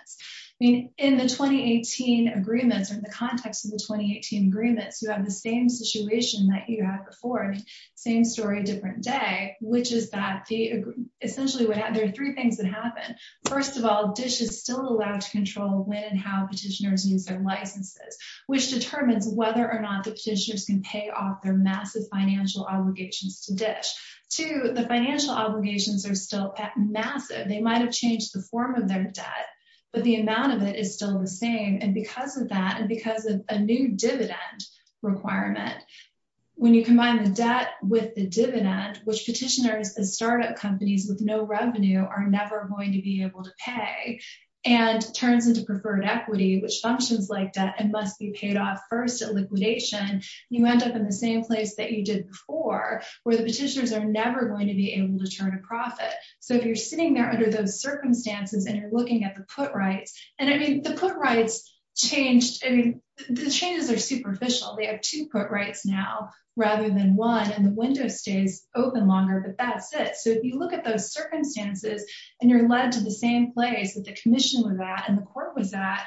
I mean, in the 2018 agreements, in the context of the 2018 agreements, you have the same situation that you have to force, same story, different day, which is that the essentially we have, there are three things that happen. First of all, DISH is still allowed to control when and how petitioners use their licenses, which determines whether or not the petitioners can pay off their massive financial obligations to DISH. Two, the financial obligations are still massive. They might have changed the form of their debt, but the amount of it is still the same and because of that and because of a new dividend requirement, when you combine the debt with the dividend, which petitioners and startup companies with no revenue are never going to be able to pay, and turns into preferred equity, which functions like that and must be paid off first at liquidation, you end up in the same place that you did before, where the petitioners are never going to be able to turn a profit. So if you're sitting there under those circumstances and you're looking at the put right, and I mean, the put rights changed, I mean, the changes are superficial. They have two put rights now rather than one and the window stays open longer, but that's it. So if you look at those circumstances and you're led to the same place that the commission was at and the court was at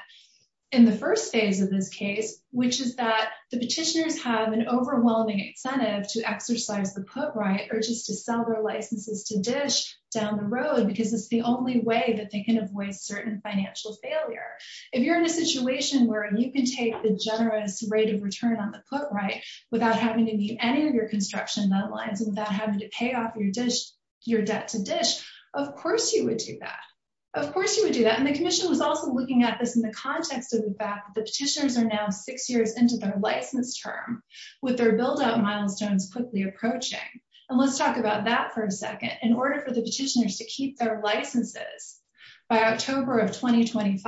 in the first phase of this case, which is that the petitioners have an overwhelming incentive to exercise the put right or just to sell their licenses to DISH down the road because it's the only way that they can avoid certain financial failure. If you're in a situation where you can take the generous rate of return on the put right without having to meet any of your construction deadlines and without having to pay off your debt to DISH, of course you would do that. Of course you would do that, and the commission was also looking at this in the context of the fact that the petitioners are now six years into their license term with their build-out milestones quickly approaching. And let's talk about that for a second. In order for the petitioners to keep their licenses by October of 2025,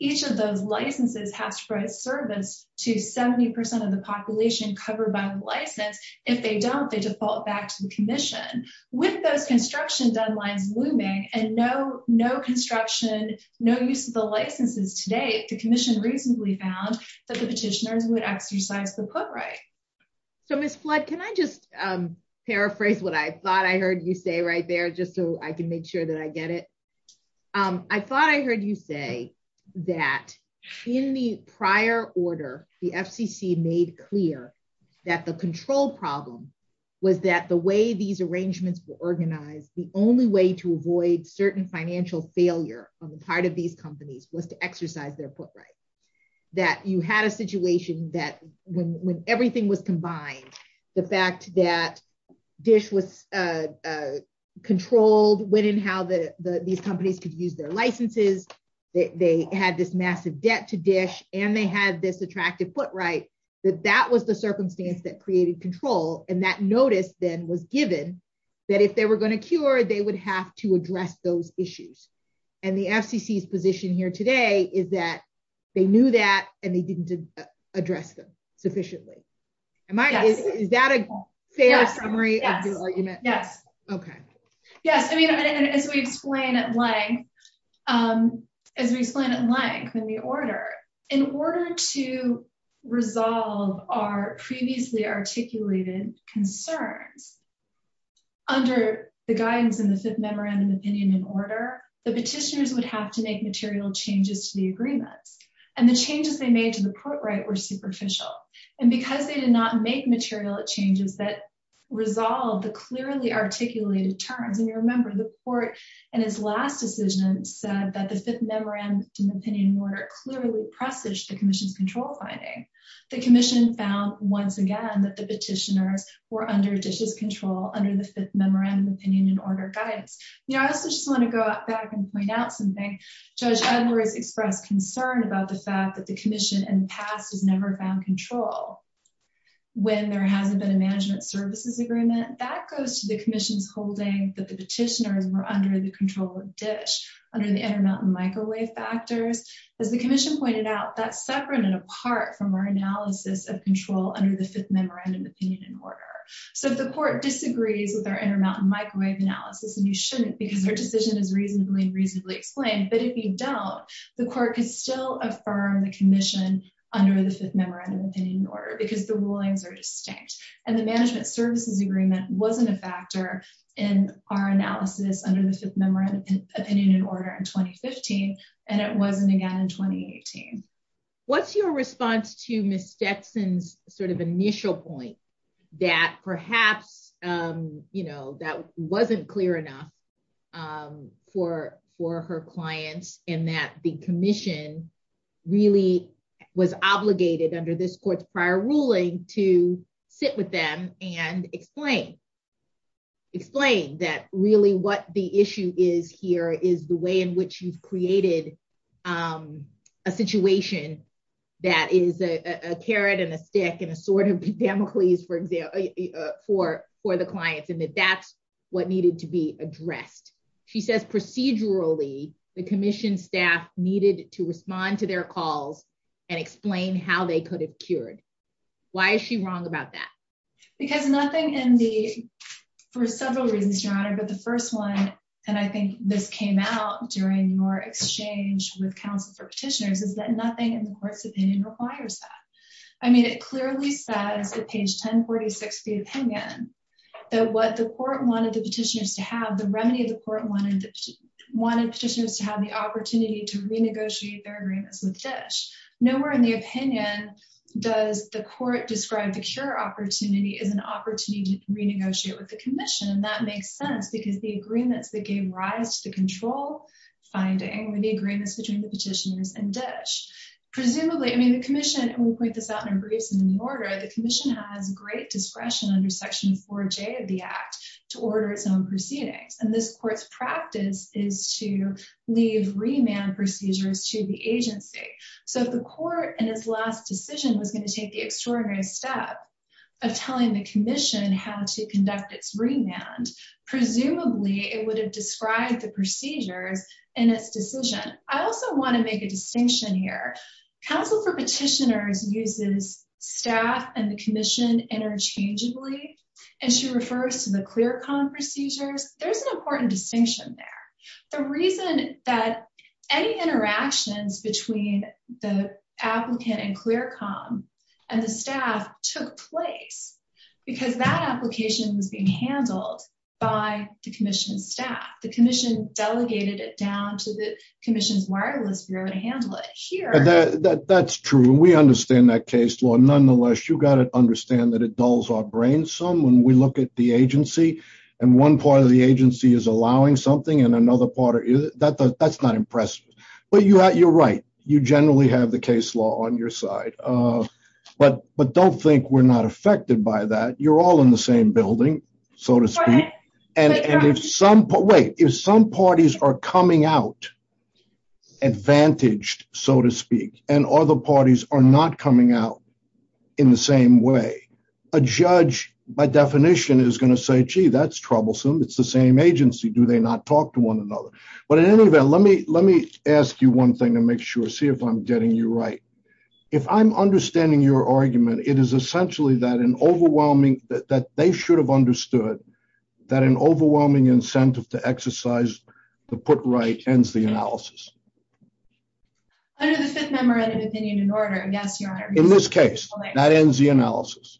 each of those licenses have to provide service to 70% of the population covered by the license. If they don't, they default back to the commission. With those construction deadlines looming and no construction, no use of the licenses to date, the commission recently found that the petitioners would exercise the put right. So, Ms. Flood, can I just paraphrase what I thought I heard you say right there just so I can make sure that I get it? I thought I heard you say that in the prior order, the FCC made clear that the control problem was that the way these arrangements were organized, the only way to avoid certain financial failure on the part of these companies was to exercise their put right. That you had a situation that when everything was combined, the fact that DISH was controlled within how these companies could use their licenses, they had this massive debt to DISH, and they had this attractive put right, that that was the circumstance that created control. And that notice then was given that if they were going to cure, they would have to address those and they didn't address them sufficiently. Is that a fair summary of the argument? Yes. As we explain at length in the order, in order to resolve our previously articulated concern under the guidance in the Fifth Memorandum of Opinion and Order, the petitioners would have to make material changes to the agreement. And the changes they made to the put right were superficial. And because they did not make material changes that resolved the clearly articulated terms, and you remember the court in its last decision said that the Fifth Memorandum of Opinion and Order clearly presaged the commission's control finding. The commission found once again that the petitioners were under DISH's control under the Fifth Memorandum of Opinion and Order. Judge Edwards expressed concern about the fact that the commission in the past has never found control when there hasn't been a management services agreement. That goes to the commission's holding that the petitioners were under the control of DISH under the intermountain microwave factors. As the commission pointed out, that's separate and apart from our analysis of control under the Fifth Memorandum of Opinion and Order. So if the court disagrees with our intermountain microwave analysis, then you shouldn't because your decision is reasonably, reasonably explained. But if you don't, the court can still affirm the commission under the Fifth Memorandum of Opinion and Order because the rulings are distinct. And the management services agreement wasn't a factor in our analysis under the Fifth Memorandum of Opinion and Order in 2015, and it wasn't again in 2018. What's your response to Ms. Dixon's initial point that perhaps that wasn't clear enough for her client and that the commission really was obligated under this court's prior ruling to sit with them and explain that really what the issue is here is the way in which you've created a situation that is a carrot and a stick and a sword for the client and that that's what needed to be addressed. She says procedurally, the commission staff needed to respond to their calls and explain how they could have cured. Why is she wrong about that? Because nothing in the, for several reasons, Your Honor, but the first one, and I think this came out during your exchange with counsel for petitioners, is that nothing in the court's opinion requires that. I mean, it clearly says at page 1046 of the opinion that what the court wanted the petitioners to have, the remediated court wanted petitioners to have the opportunity to renegotiate their agreements with Fish. Nowhere in the opinion does the court describe the cure opportunity as an opportunity to renegotiate with the rights to control finding the agreements between the petitioners and Ditch. Presumably, I mean, the commission, and we point this out in our briefs in the menorah, the commission has great discretion under Section 4J of the Act to order its own proceedings, and this court's practice is to leave remand procedures to the agency. So if the court, in its last decision, was going to take the extraordinary step of telling the commission how to conduct its remand, presumably, it would have described the procedures in its decision. I also want to make a distinction here. Counsel for petitioners uses staff and the commission interchangeably, and she refers to the ClearComm procedures. There's an important distinction there. The reason is that any interactions between the applicant and ClearComm and the staff took place because that application was being handled by the commission's staff. The commission delegated it down to the commission's wireless bureau to handle it here. That's true. We understand that case law. Nonetheless, you got to understand that it dulls our brains some when we look at the agency, and one part of the agency is allowing something, and another part, that's not impressive. But you're right. You generally have the case law on your side. But don't think we're not affected by that. You're all in the same building, so to speak. If some parties are coming out advantaged, so to speak, and other parties are not coming out in the same way, a judge, by definition, is going to say, gee, that's troublesome. It's the same agency. Do they not talk to one another? But in any event, let me ask you one thing and see if I'm getting you right. If I'm understanding your argument, it is essentially that an overwhelming, that they should have understood that an overwhelming incentive to exercise the put right ends the analysis. In this case, that ends the analysis.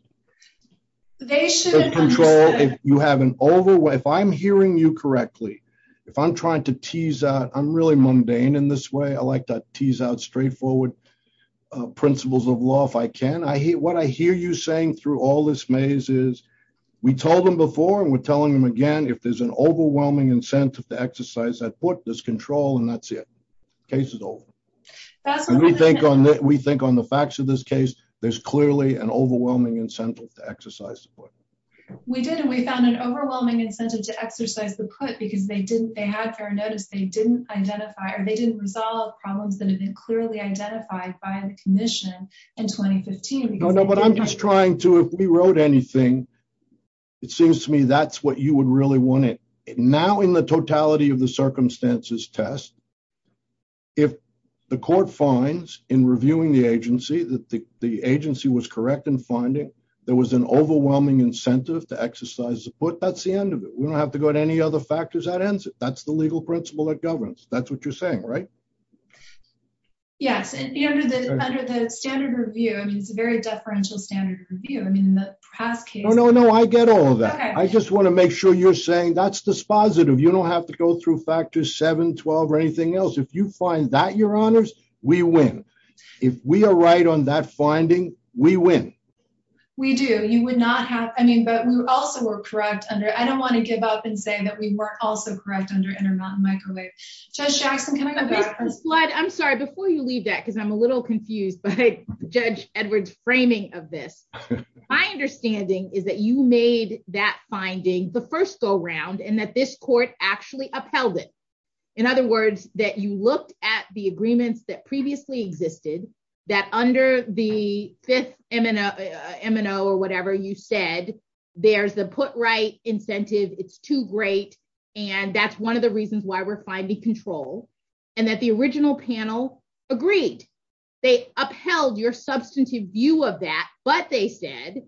They should control if you have an over, if I'm hearing you correctly, if I'm trying to tease out, I'm really mundane in this way. I like to tease out straightforward principles of law if I can. What I hear you saying through all this maze is, we told them before, and we're telling them again, if there's an overwhelming incentive to exercise that put, there's control, and that's it. Case is over. We think on the facts of this case, there's clearly an overwhelming incentive to exercise the put. We did. We found an overwhelming incentive to exercise the put because they didn't, they have their notice, they didn't identify, or they didn't resolve problems that had been clearly identified by the commission in 2015. No, no, but I'm just trying to, if we wrote anything, it seems to me that's what you would really want it. Now in the totality of the circumstances test, if the court finds in reviewing the agency that the agency was correct in finding, there was an overwhelming incentive to exercise the put, that's the end of it. We don't have to go to any other factors that ends it. That's the legal principle that governs. That's what you're saying, right? Yes, and under the standard review, and it's a very deferential standard review, and in the past case- No, no, no, I get all of that. I just want to make sure you're that's dispositive. You don't have to go through factors seven, 12, or anything else. If you find that you're honest, we win. If we are right on that finding, we win. We do. You would not have, I mean, but we also were correct under, I don't want to give up and say that we were also correct under Intermountain Microwave. Judge Jackson, can I- I'm sorry, before you leave that, because I'm a little confused by Judge Edward's framing of this. My understanding is that you and that this court actually upheld it. In other words, that you looked at the agreements that previously existed, that under the fifth M&O or whatever you said, there's a put right incentive, it's too great, and that's one of the reasons why we're finding control, and that the original panel agreed. They upheld your substantive view of that, but they said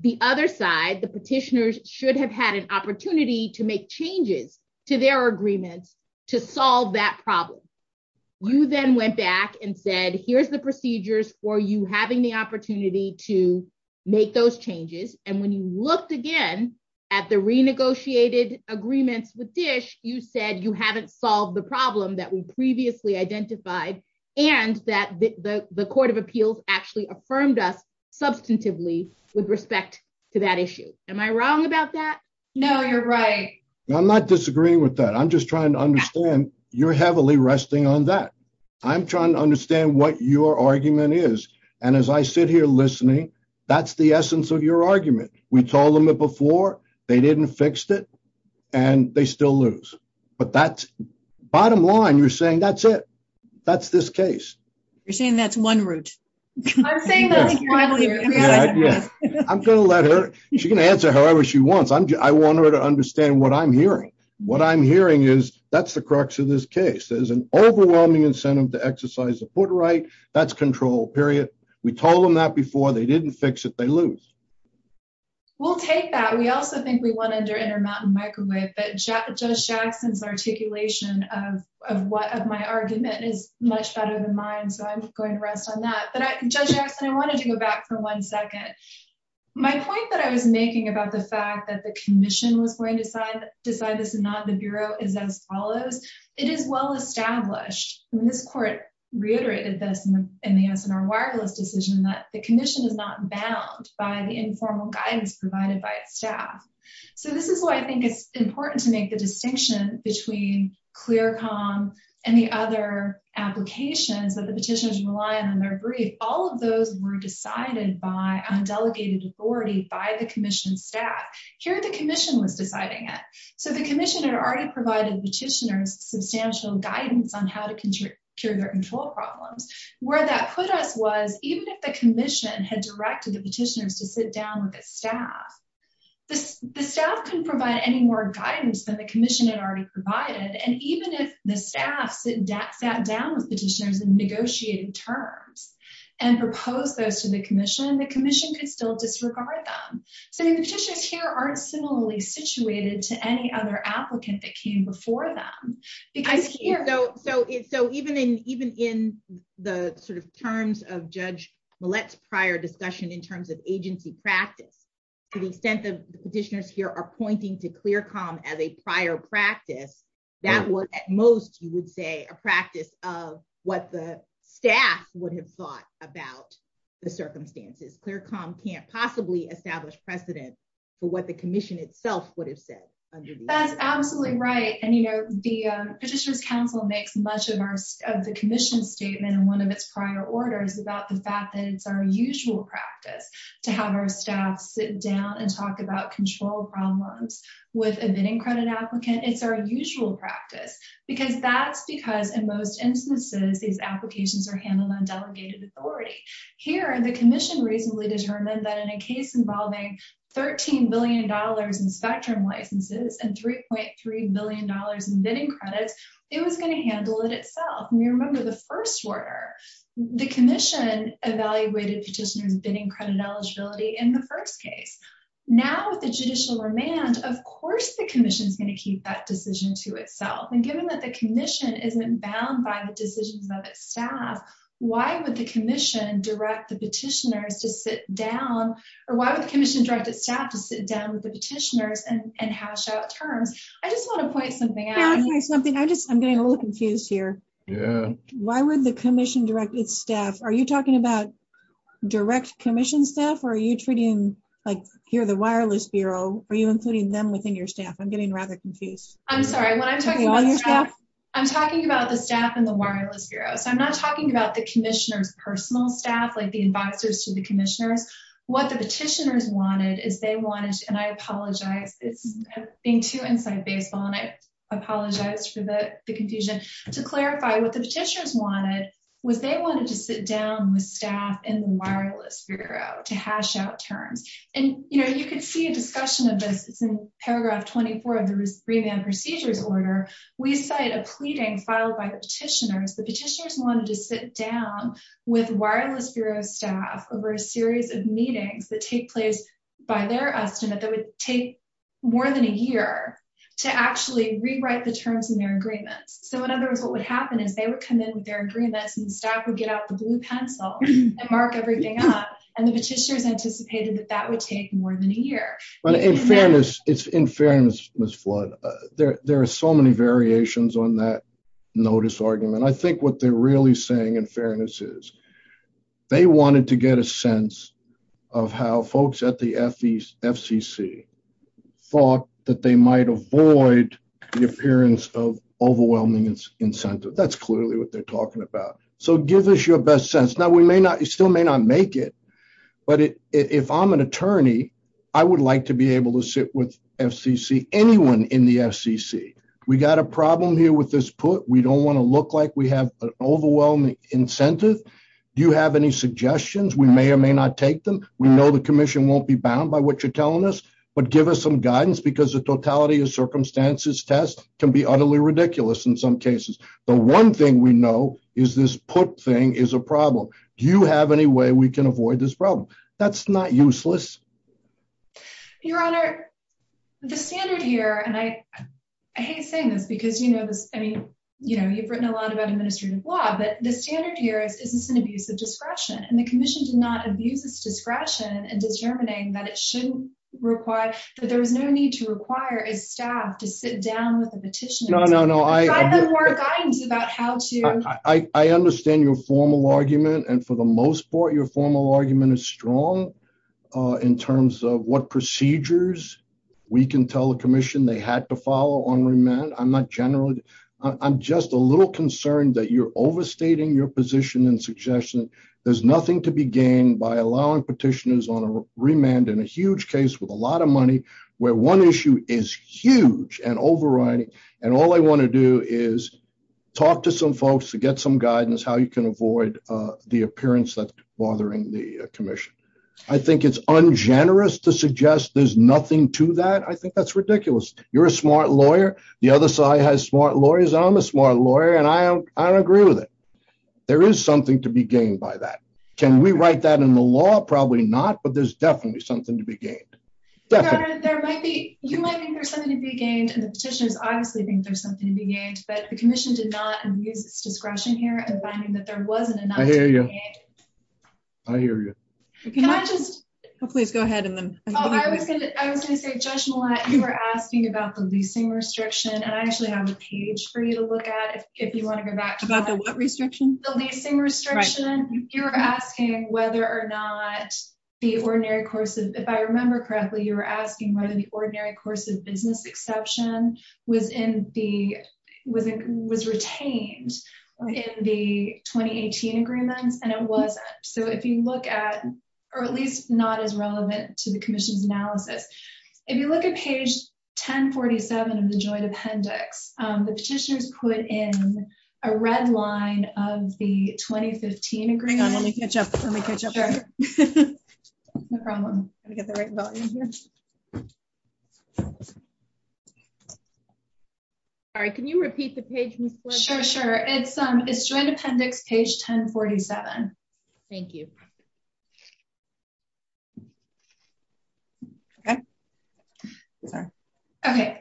the other side, the petitioners, should have had an opportunity to make changes to their agreements to solve that problem. You then went back and said, here's the procedures for you having the opportunity to make those changes, and when you looked again at the renegotiated agreements with DISH, you said you haven't solved the problem that we previously identified, and that the Court of Appeals actually affirmed that substantively with respect to that issue. Am I wrong about that? No, you're right. I'm not disagreeing with that. I'm just trying to understand, you're heavily resting on that. I'm trying to understand what your argument is, and as I sit here listening, that's the essence of your argument. We told them it before, they didn't fix it, and they still lose. But that's- bottom line, you're saying that's it. That's this case. You're saying that's one route. She can answer however she wants. I want her to understand what I'm hearing. What I'm hearing is that's the crux of this case. There's an overwhelming incentive to exercise the foot right. That's control, period. We told them that before, they didn't fix it, they lose. We'll take that. We also think we won under Intermountain Microwave, that Judge Jackson's articulation of my argument is much better than mine, so I'm just going to rest on that. But Judge Jackson, I wanted to go back for one second. My point that I was making about the fact that the commission was going to decide this and not the Bureau is as follows. It is well established, and this court reiterated this in the Antinor Wireless decision, that the commission is not bound by the informal guidance provided by its important to make the distinction between ClearComm and the other applications that the petitioners rely on their brief. All of those were decided by undelegated authority by the commission staff. Here, the commission was deciding it. So the commission had already provided the petitioners substantial guidance on how to control their control problems. Where that put us was, even if the commission had directed the petitioners to sit down with its staff to provide any more guidance than the commission had already provided, and even if the staff sat down with the petitioners and negotiated terms and proposed those to the commission, the commission could still disregard them. So the petitioners here aren't similarly situated to any other applicant that came before them. So even in the terms of Judge practice, to the extent that the petitioners here are pointing to ClearComm as a prior practice, that was at most, you would say, a practice of what the staff would have thought about the circumstances. ClearComm can't possibly establish precedence for what the commission itself would have said. That's absolutely right. And, you know, the Petitioner's Council makes much of the commission statement in one of its prior orders about the fact that it's our usual practice to have our staff sit down and talk about control problems with a bidding credit applicant. It's our usual practice. Because that's because, in most instances, these applications are handled on delegated authority. Here, the commission recently determined that in a case involving $13 billion in spectrum licenses and $3.3 billion in bidding credit, it was going to credit eligibility in the first case. Now, with the judicial remand, of course the commission's going to keep that decision to itself. And given that the commission isn't bound by the decisions of its staff, why would the commission direct the petitioners to sit down, or why would the commission direct its staff to sit down with the petitioners and hash out terms? I just want to point something out. I'm getting a little confused here. Yeah. Why would the commission direct its staff? Are you talking about direct commission staff, or are you treating, like, here the Wireless Bureau, are you including them within your staff? I'm getting rather confused. I'm sorry. I'm talking about the staff in the Wireless Bureau. I'm not talking about the commissioner's personal staff, like the advisors to the commissioner. What the petitioners wanted is they wanted, and I apologize, it's being too insight-based, and I apologize for the confusion, to clarify what the petitioners wanted was they wanted to sit down with staff in the Wireless Bureau to hash out terms. And, you know, you could see a discussion of this in paragraph 24 of the remand procedures order. We cite a pleading filed by the petitioners. The petitioners wanted to sit down with Wireless Bureau staff over a series of meetings that take place by their estimate that would take more than a year to actually rewrite the terms of their agreement. So, in other words, what would happen is they would come in with their agreement, and the staff would get out the blue pencil and mark everything up, and the petitioners anticipated that that would take more than a year. In fairness, Ms. Flood, there are so many variations on that notice argument. I think what they're really saying in fairness is they wanted to get a sense of how folks at the FCC thought that they might avoid the appearance of overwhelming incentive. That's clearly what they're talking about. So, give us your best sense. Now, we may not, you still may not make it, but if I'm an attorney, I would like to be able to sit with FCC, anyone in the FCC. We got a problem here with this put. We don't want to look like we have an overwhelming incentive. Do you have any suggestions? We may or may not take them. We know the commission won't be bound by what you're telling us, but give us some guidance because the totality of circumstances test can be utterly ridiculous in some cases. The one thing we know is this put thing is a problem. Do you have any way we can avoid this problem? That's not useless. Your Honor, the standard here, and I hate saying this because you know this, I mean, you know, you've written a lot about administrative law, but the standard here is it's an abuse of discretion, and the commission does not abuse discretion in determining that it shouldn't require, so there's no need to require a staff to sit down with a petitioner. No, no, no. I have more guidance about how to. I understand your formal argument, and for the most part, your formal argument is strong in terms of what procedures we can tell the commission they had to follow on remand. I'm not generally, I'm just a little concerned that you're overstating your position and suggestion. There's nothing to be gained by allowing petitioners on a remand in a huge case with a lot of money where one issue is huge and overriding, and all I want to do is talk to some folks to get some guidance how you can avoid the appearance of bothering the commission. I think it's ungenerous to suggest there's nothing to that. I think that's ridiculous. You're a smart lawyer. The other side has smart lawyers. I'm a smart lawyer, and I agree with it. There is something to be gained by that. Can we write that in the law? Probably not, but there's definitely something to be gained. You might think there's something to be gained, and the petitioners obviously think there's something to be gained, but the commission did not abuse discretion here in finding that there wasn't enough to be gained. I hear you. I was going to say, Judge Millat, you were asking about the leasing restriction, and I actually have a page for you to look at if you want to go back to that. About the what restriction? The leasing restriction. You were asking whether or not the ordinary courses, if I remember correctly, you were asking whether the ordinary courses business exception was retained in the 2018 agreement, and it wasn't. If you look at, or at least not as relevant to the commission's analysis, if you look at page 1047 of the joint appendix. Sorry, can you repeat the page? Sure. It's joint appendix page 1047. Thank you.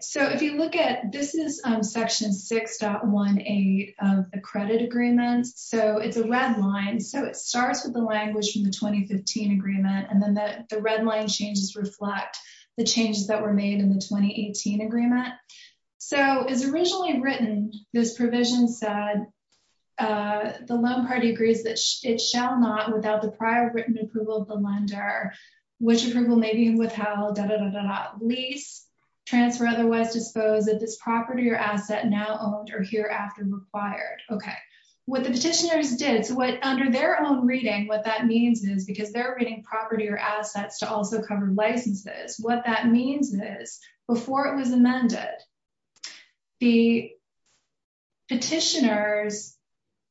So, if you look at, this is section 6.18 of the credit agreement. So, it's a red line. So, it starts with the language from the 2015 agreement, and then the red line changes reflect the changes that were made in the 2018 agreement. So, as originally written, this provision said, the loan party agrees that it shall not, without the prior written approval of the lender, which approval may be withheld, lease, transfer, otherwise disposed, is this property or asset now owned or hereafter required. Okay. What the petitioners did, under their own reading, what that means is, because they're reading property or assets to also cover licenses, what that means is, before it was amended, the petitioners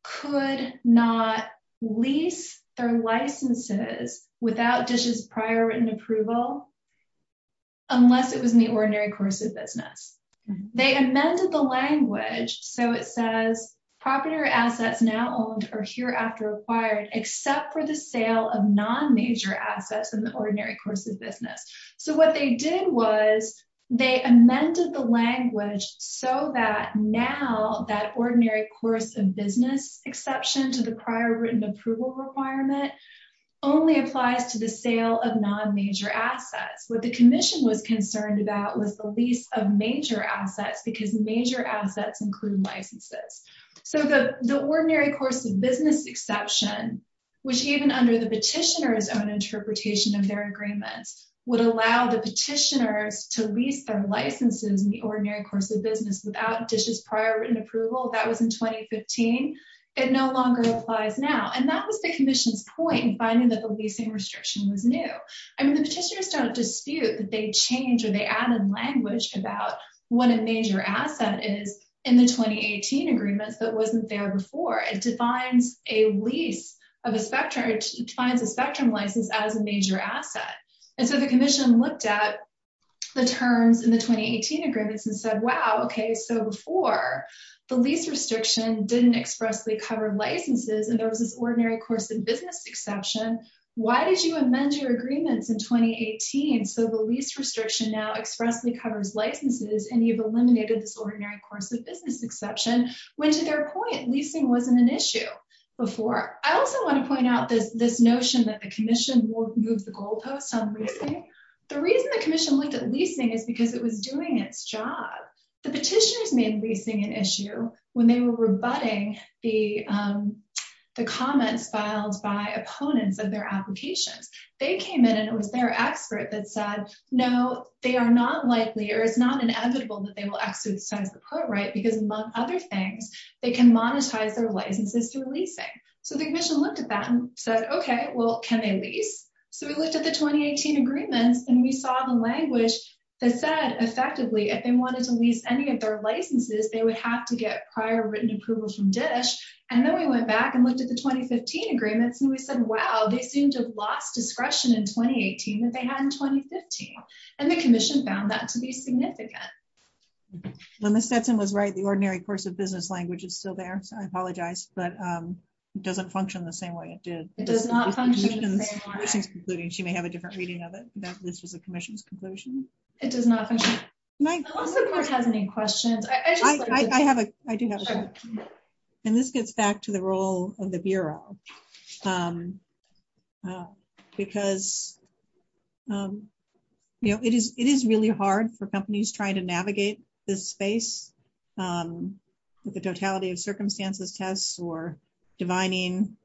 could not lease their licenses without DISH's prior written approval unless it was in the ordinary courses business. They amended the language, so it says property or assets now owned or hereafter required except for the sale of non-major assets in the ordinary course of business. So, what they did was, they amended the language so that now that ordinary course of business exception to the prior written approval requirement only applies to the sale of non-major assets. What the commission was concerned about was the lease of major assets because major assets include licenses. So, the ordinary course of business exception, which even under the petitioner's own interpretation of their agreement, would allow the petitioner to lease their licenses in the ordinary course of business without DISH's prior written approval, that was in 2015, it no longer applies now. And that was the commission's point in finding that the leasing restriction was new. I mean, they added language about what a major asset is in the 2018 agreement that wasn't there before. It defines a spectrum license as a major asset. And so, the commission looked at the terms in the 2018 agreement and said, wow, okay, so before the lease restriction didn't expressly cover licenses and there was this ordinary course of business exception, why did you amend your 2018 so the lease restriction now expressly covers licenses and you've eliminated this ordinary course of business exception? Which to their point, leasing wasn't an issue before. I also want to point out this notion that the commission won't move the goalpost on leasing. The reason the commission looked at leasing is because it was doing its job. The petitioners made leasing an issue when they were rebutting the comments filed by opponents of their application. They came in and it was their expert that said, no, they are not likely or it's not inevitable that they will exercise the court right because among other things, they can monetize their licenses through leasing. So, the commission looked at that and said, okay, well, can they lease? So, we looked at the 2018 agreement and we saw the language that said, effectively, if they wanted to lease any of their licenses, they would have to get prior written approval from DISH. And then we went back and looked at the 2015 agreement and we said, wow, they seem to have lost discretion in 2018 that they had in 2015. And the commission found that to be significant. When Ms. Stetson was right, the ordinary course of business language is still there. I apologize, but it doesn't function the same way it did. It does not function the same way. She may have a different reading of it. This is the commission's conclusion. It does not function. I don't think Mark has any questions. I do not. And this gets back to the role of the Bureau because it is really hard for companies trying to navigate this space with the totality of circumstances tests or divining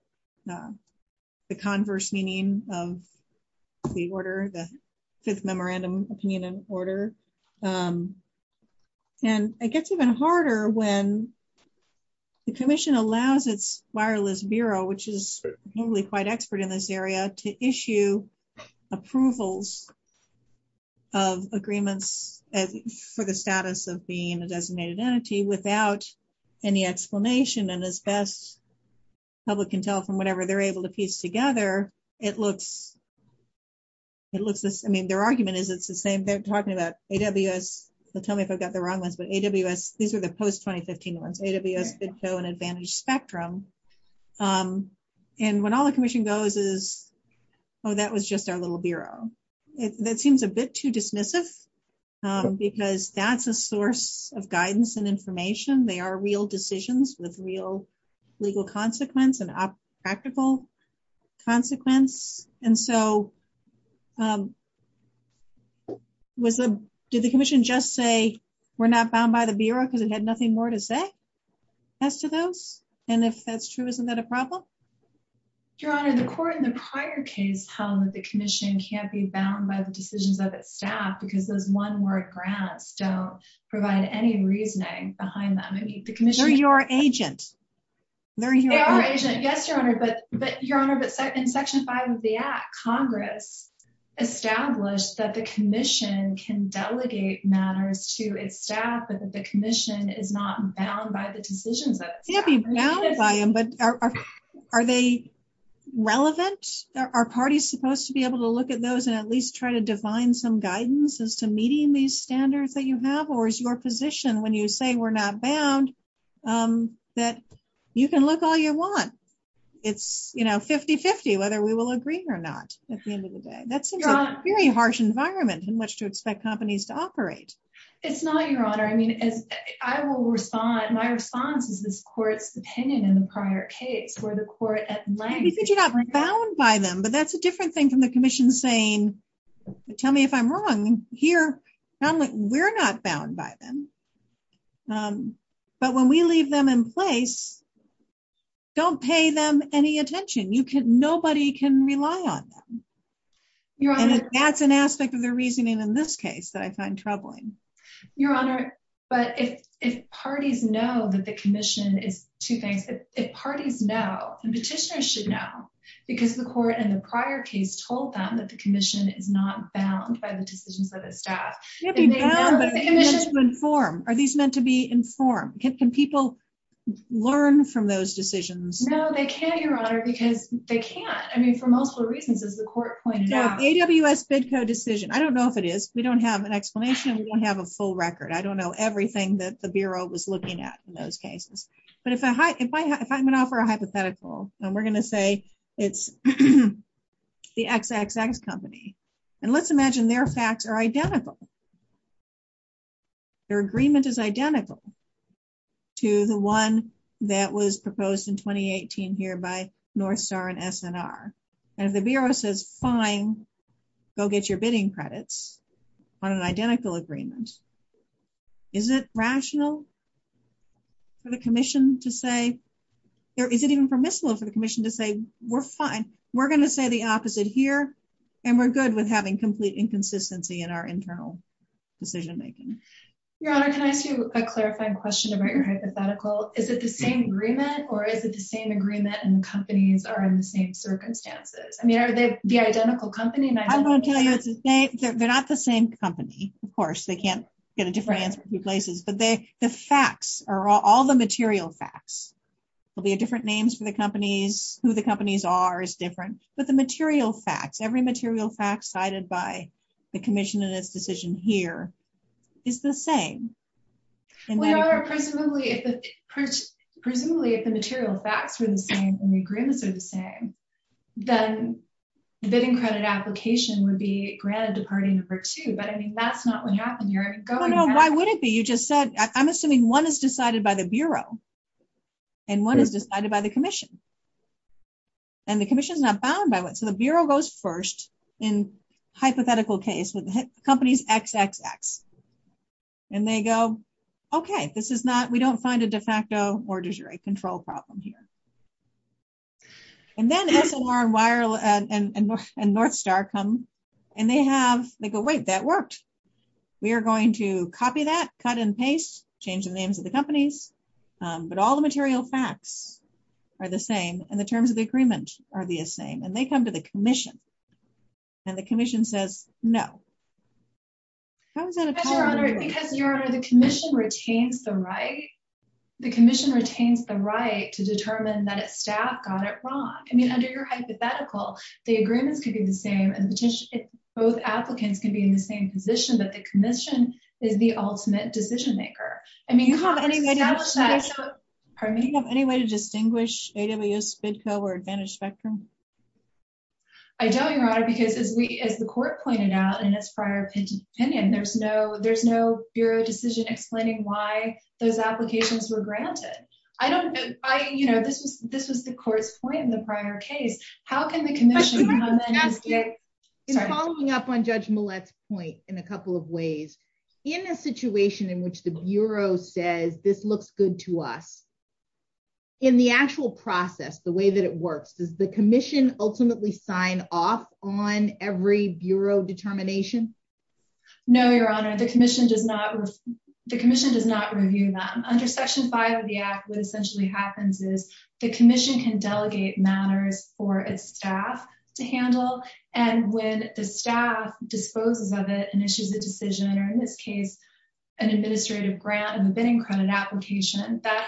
the converse meaning of the order, the fifth memorandum opinion order. And it gets even harder when the commission allows its wireless Bureau, which is probably quite expert in this area, to issue approvals of agreements for the status of being a designated entity without any explanation. And as best public can tell from whatever they're able to piece together, it looks, it looks, I mean, their argument is it's the same. They're talking about AWS, so tell me if I've got the wrong ones, but AWS, these are the post-2015 ones, AWS, BITSO, and Advantage Spectrum. And when all the commission goes is, oh, that was just our little Bureau. That seems a bit too dismissive because that's a source of guidance and information. They are real decisions with real legal consequence and practical consequence. And so did the commission just say, we're not bound by the Bureau because it had nothing more to say as to those? And if that's true, isn't that a problem? Your Honor, the court in the prior case, the commission can't be bound by the decision by staff because those one-word grants don't provide any reasoning behind them. They're your agent. They're your agent, yes, Your Honor, but Your Honor, but in section five of the act, Congress established that the commission can delegate matters to its staff, but that the commission is not bound by the decision book. Can't be bound by them, but are they relevant? Are parties supposed to be able to look at those and at least try to define some guidance as to meeting these standards that you have, or is your position when you say we're not bound that you can look all you want? It's 50-50 whether we will agree or not at the end of the day. That's a very harsh environment in which to expect companies to operate. It's not, Your Honor. I mean, I will respond. My response is this court's opinion in the prior case where the court at length- Because you're not bound by them, but that's a different thing from the commission saying, tell me if I'm wrong. Here, we're not bound by them, but when we leave them in place, don't pay them any attention. Nobody can rely on them. Your Honor- And that's an aspect of their reasoning in this case that I find troubling. Your Honor, but if parties know that the commission is- Two things. If parties know, the petitioners should know, because the court in the prior case told them that the commission is not bound by the decisions of the staff. Can't be bound, but are these meant to be informed? Can people learn from those decisions? No, they can't, Your Honor, because they can't. I mean, for multiple reasons, as the court pointed out. The AWS FDCO decision, I don't know if it is. We don't have an explanation. We don't have a full record. I don't know everything that the Bureau was looking at in those cases, but if I'm going to offer a hypothetical and we're going to say it's the XXX company, and let's imagine their facts are identical. Their agreement is identical to the one that was proposed in 2018 here by Northstar and SNR, and the Bureau says, fine, go get your bidding credits on an identical agreement. Is it rational for the commission to say, or is it even permissible for the commission to say, we're fine, we're going to say the opposite here, and we're good with having complete inconsistency in our internal decision making? Your Honor, can I do a clarifying question about your hypothetical? Is it the same agreement, or is it the same agreement and companies are in the same circumstances? I mean, are they the identical company? I'm going to tell you it's the same. They're not the same company. Of course, they can't get a different answer in two places, but the facts are all the material facts. There'll be different names for the companies, who the companies are is different, but the material facts, every material fact cited by the commission in this decision here is the same. Your Honor, presumably if the material facts are the same and the agreements are the same, then the bidding credit application would be granted to party number two, but I mean, that's not what happened here. No, no, why would it be? You just said, I'm assuming one is decided by the Bureau and one is decided by the commission, and the commission is not bound by one. So, the Bureau goes first in hypothetical case with the companies XXX, and they go, okay, we don't find a de facto or de jure control problem here. And then Ethel Warren Weier and Northstar come, and they go, wait, that worked. We are going to copy that, cut and paste, change the names of the companies, but all the material facts are the same, and the terms of the agreement are the same, and they come to the commission, and the commission says, no. Your Honor, the commission retains the right to determine that its staff got it wrong. I mean, under your hypothetical, the agreements could be the same, and both applicants could be in the same position, but the commission is the ultimate decision maker. Do you have any way to distinguish AWS, FIDCO, or Advantage Spectrum? I don't, Your Honor, because as the court pointed out in its prior opinion, there's no Bureau decision explaining why those applications were granted. I don't, you know, this is the court's point in the prior case. How can the commission come in and say, in following up on Judge Millett's point in a couple of ways, in a situation in which the Bureau says, this looks good to us? In the actual process, the way that it works, does the commission ultimately sign off on every Bureau determination? No, Your Honor, the commission does not review them. Under Section 5 of the Act, what essentially happens is the commission can delegate matters for its staff to handle, and when the staff disposes of it and issues a decision, or in this that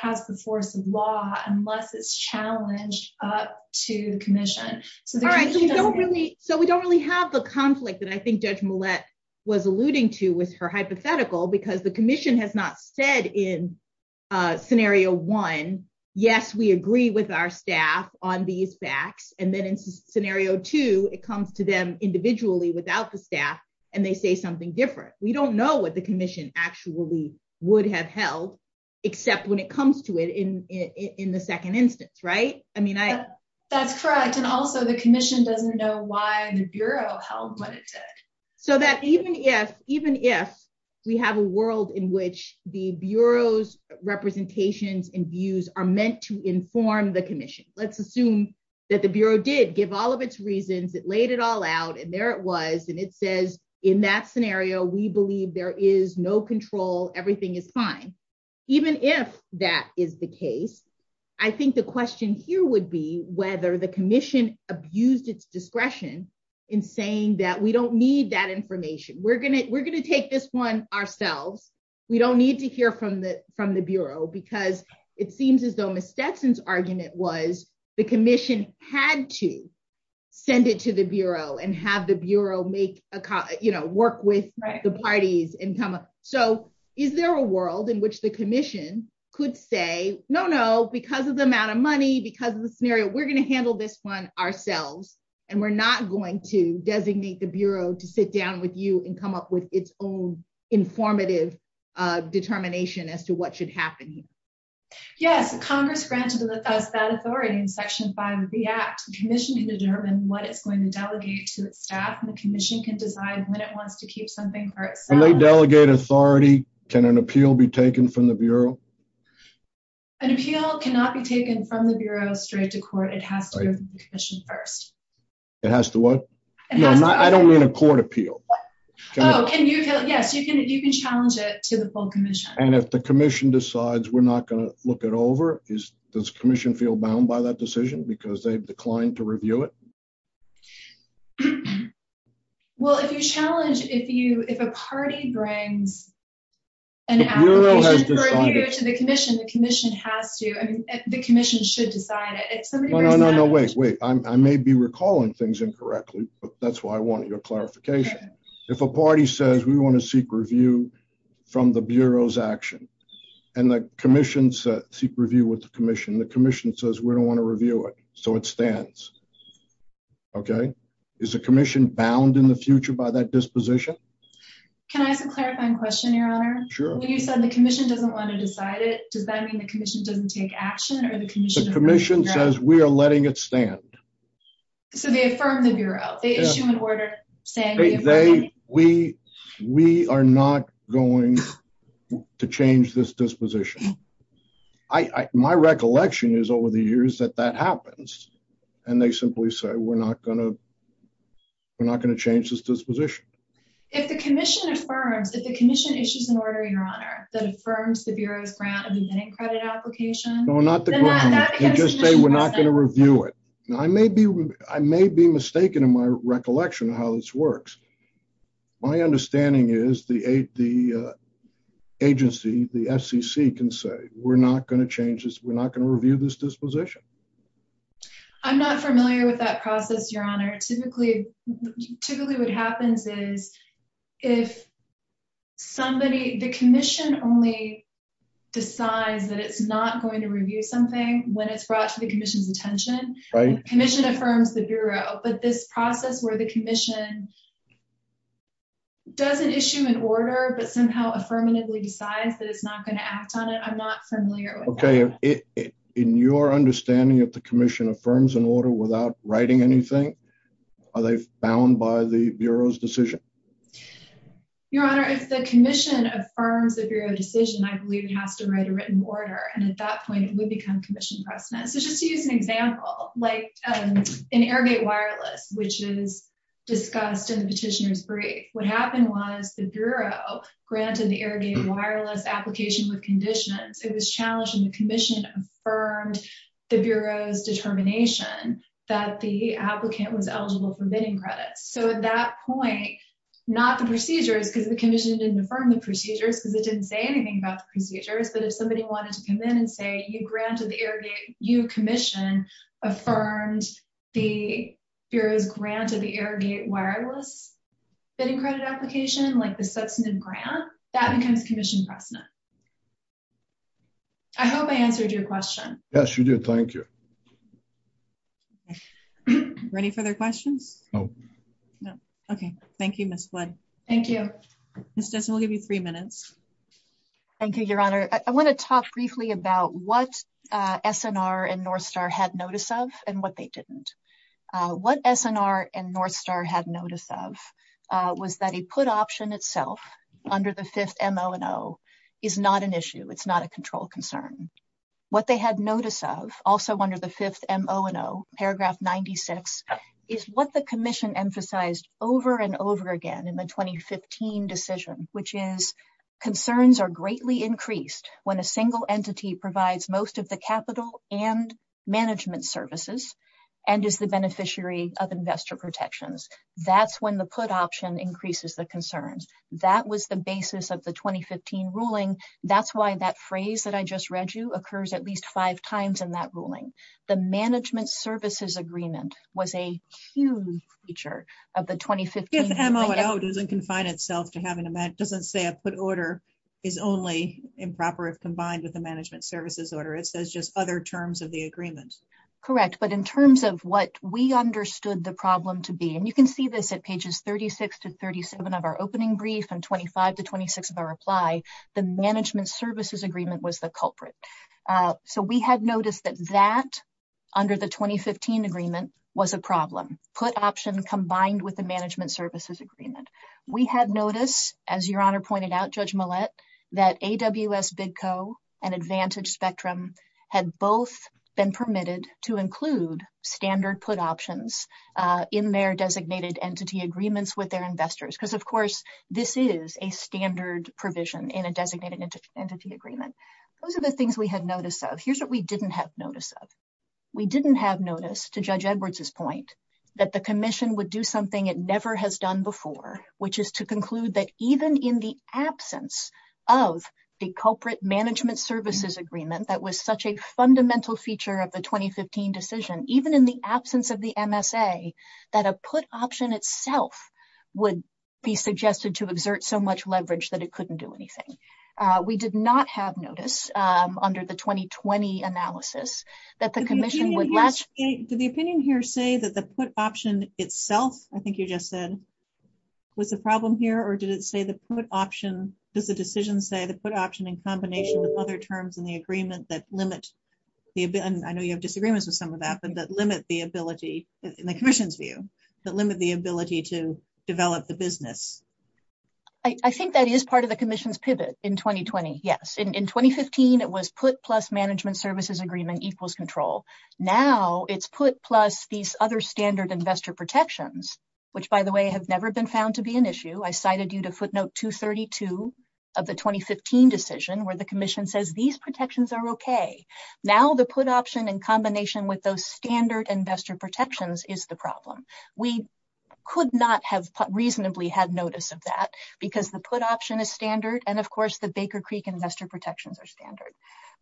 has the force of law, unless it's challenged up to the commission. So we don't really have the conflict that I think Judge Millett was alluding to with her hypothetical, because the commission has not said in Scenario 1, yes, we agree with our staff on these facts, and then in Scenario 2, it comes to them individually without the staff, and they say don't know what the commission actually would have held, except when it comes to it in the second instance, right? That's correct, and also the commission doesn't know why the Bureau held what it said. So even if we have a world in which the Bureau's representations and views are meant to inform the commission, let's assume that the Bureau did give all of its reasons, it laid it all out, and there it was, and it says in that scenario, we believe there is no control, everything is fine. Even if that is the case, I think the question here would be whether the commission abused its discretion in saying that we don't need that information. We're going to take this one ourselves. We don't need to hear from the Bureau, because it seems as though Ms. Stetson's argument was the commission had to send it to the Bureau and have the Bureau work with the parties and come up. So is there a world in which the commission could say, no, no, because of the amount of money, because of the scenario, we're going to handle this one ourselves, and we're not going to designate the Bureau to sit down with you and come up with its own informative determination as to what should happen. Yes, Congress granted us that authority in Section 5 of the Act. The commission can determine what it's going to delegate to its staff, and the commission can decide when it wants to keep something for itself. When they delegate authority, can an appeal be taken from the Bureau? An appeal cannot be taken from the Bureau straight to court. It has to go to the commission first. It has to what? No, I don't mean a court appeal. Oh, yes, you can challenge it to the full commission. And if the commission decides we're not going to look it over, does the commission feel bound by that decision because they've declined to review it? Well, if you challenge, if a party brings an application to the commission, the commission has to, I mean, the commission should decide it. No, no, no, wait, wait. I may be recalling things correctly, but that's why I wanted your clarification. If a party says we want to seek review from the Bureau's action, and the commission says, seek review with the commission, the commission says we don't want to review it, so it stands. Okay? Is the commission bound in the future by that disposition? Can I have a clarifying question, Your Honor? Sure. When you said the commission doesn't want to decide it, does that mean the commission doesn't take action, or the commission- The commission says we are letting it stand. So they affirm the Bureau. They issue an order saying- We are not going to change this disposition. My recollection is over the years that that happens, and they simply say we're not going to change this disposition. If the commission affirms, if the commission issues an order, Your Honor, that affirms the Bureau's grant and beginning credit application- No, not the government. They just say we're not going to review it. I may be mistaken in my recollection of how this works. My understanding is the agency, the SEC, can say we're not going to change this, we're not going to review this disposition. I'm not familiar with that process, Your Honor. Typically, what happens is the commission only decides that it's not going to review something when it's brought to the commission's attention. The commission affirms the Bureau, but this process where the commission doesn't issue an order but somehow affirmatively decides that it's not going to act on it, I'm not familiar with that. Okay. In your understanding if the commission affirms an order without writing anything, are they bound by the Bureau's decision? Your Honor, if the commission affirms the Bureau's decision, I believe it has to write a written order. At that point, it would become commission precedent. Just to use an example, like an airdate wireless, which is discussed in the petitioner's brief. What happened was the Bureau granted the airdate wireless application with conditions. It was challenged, and the commission affirmed the Bureau's determination that the applicant was eligible for bidding credit. At that point, not the procedures, because the commission didn't affirm the procedures because it didn't say anything about the procedures, but if somebody wanted to come in and say you granted the airdate, you, commission, affirmed the Bureau's grant of the airdate wireless bidding credit application, like the substantive grant, that becomes commission precedent. I hope I answered your question. Yes, you did. Thank you. Ready for the question? No. Okay. Thank you, Ms. Wood. Thank you. This does only be three minutes. Thank you, Your Honor. I want to talk briefly about what SNR and Northstar had notice of and what they didn't. What SNR and Northstar had notice of was that he put option itself under the fifth M.O. and O. is not an issue. It's not a control concern. What they had notice of, also under the fifth M.O. and O., paragraph 96, is what the commission emphasized over and over again in the 2015 decision, which is concerns are greatly increased when a single entity provides most of the capital and management services and is the beneficiary of investor protections. That's when the put option increases the concerns. That was the basis of the 2015 ruling. That's why that phrase that I just read you occurs at least five times in that ruling. The management services agreement was a huge feature of the 2015. If M.O. and O. doesn't confine itself to having a, doesn't say a put order is only improper if combined with a management services order. It says just other terms of the agreement. Correct, but in terms of what we understood the problem to be, and you can see this at pages 36 to 37 of our opening brief and 25 to 26 of our reply, the management services agreement was the culprit. So we had noticed that that under the 2015 agreement was a problem. Put option combined with the management services agreement. We had noticed, as your honor pointed out, that AWS Bidco and Advantage Spectrum had both been permitted to include standard put options in their designated entity agreements with their investors. Because of course, this is a standard provision in a designated entity agreement. Those are the things we had noticed though. Here's what we didn't have notice of. We didn't have notice to Judge Edwards's point that the commission would do something it never has done before, which is to conclude that even in the absence of the culprit management services agreement that was such a fundamental feature of the 2015 decision, even in the absence of the MSA, that a put option itself would be suggested to exert so much leverage that it couldn't do anything. We did not have notice under the 2020 analysis that the commission would- Did the opinion here say that the put option itself, I think you just said, was the problem here? Or did it say the put option, did the decision say the put option in combination with other terms in the agreement that limit- I know you have disagreements with some of that, but that limit the ability, in the commission's view, that limit the ability to develop the business? I think that is part of the commission's pivot in 2020, yes. In 2015, it was put plus management services agreement equals control. Now it's put plus these other standard investor protections. By the way, they have never been found to be an issue. I cited you to footnote 232 of the 2015 decision where the commission says these protections are okay. Now the put option in combination with those standard investor protections is the problem. We could not have reasonably had notice of that because the put option is standard and, of course, the Baker Creek investor protections are standard.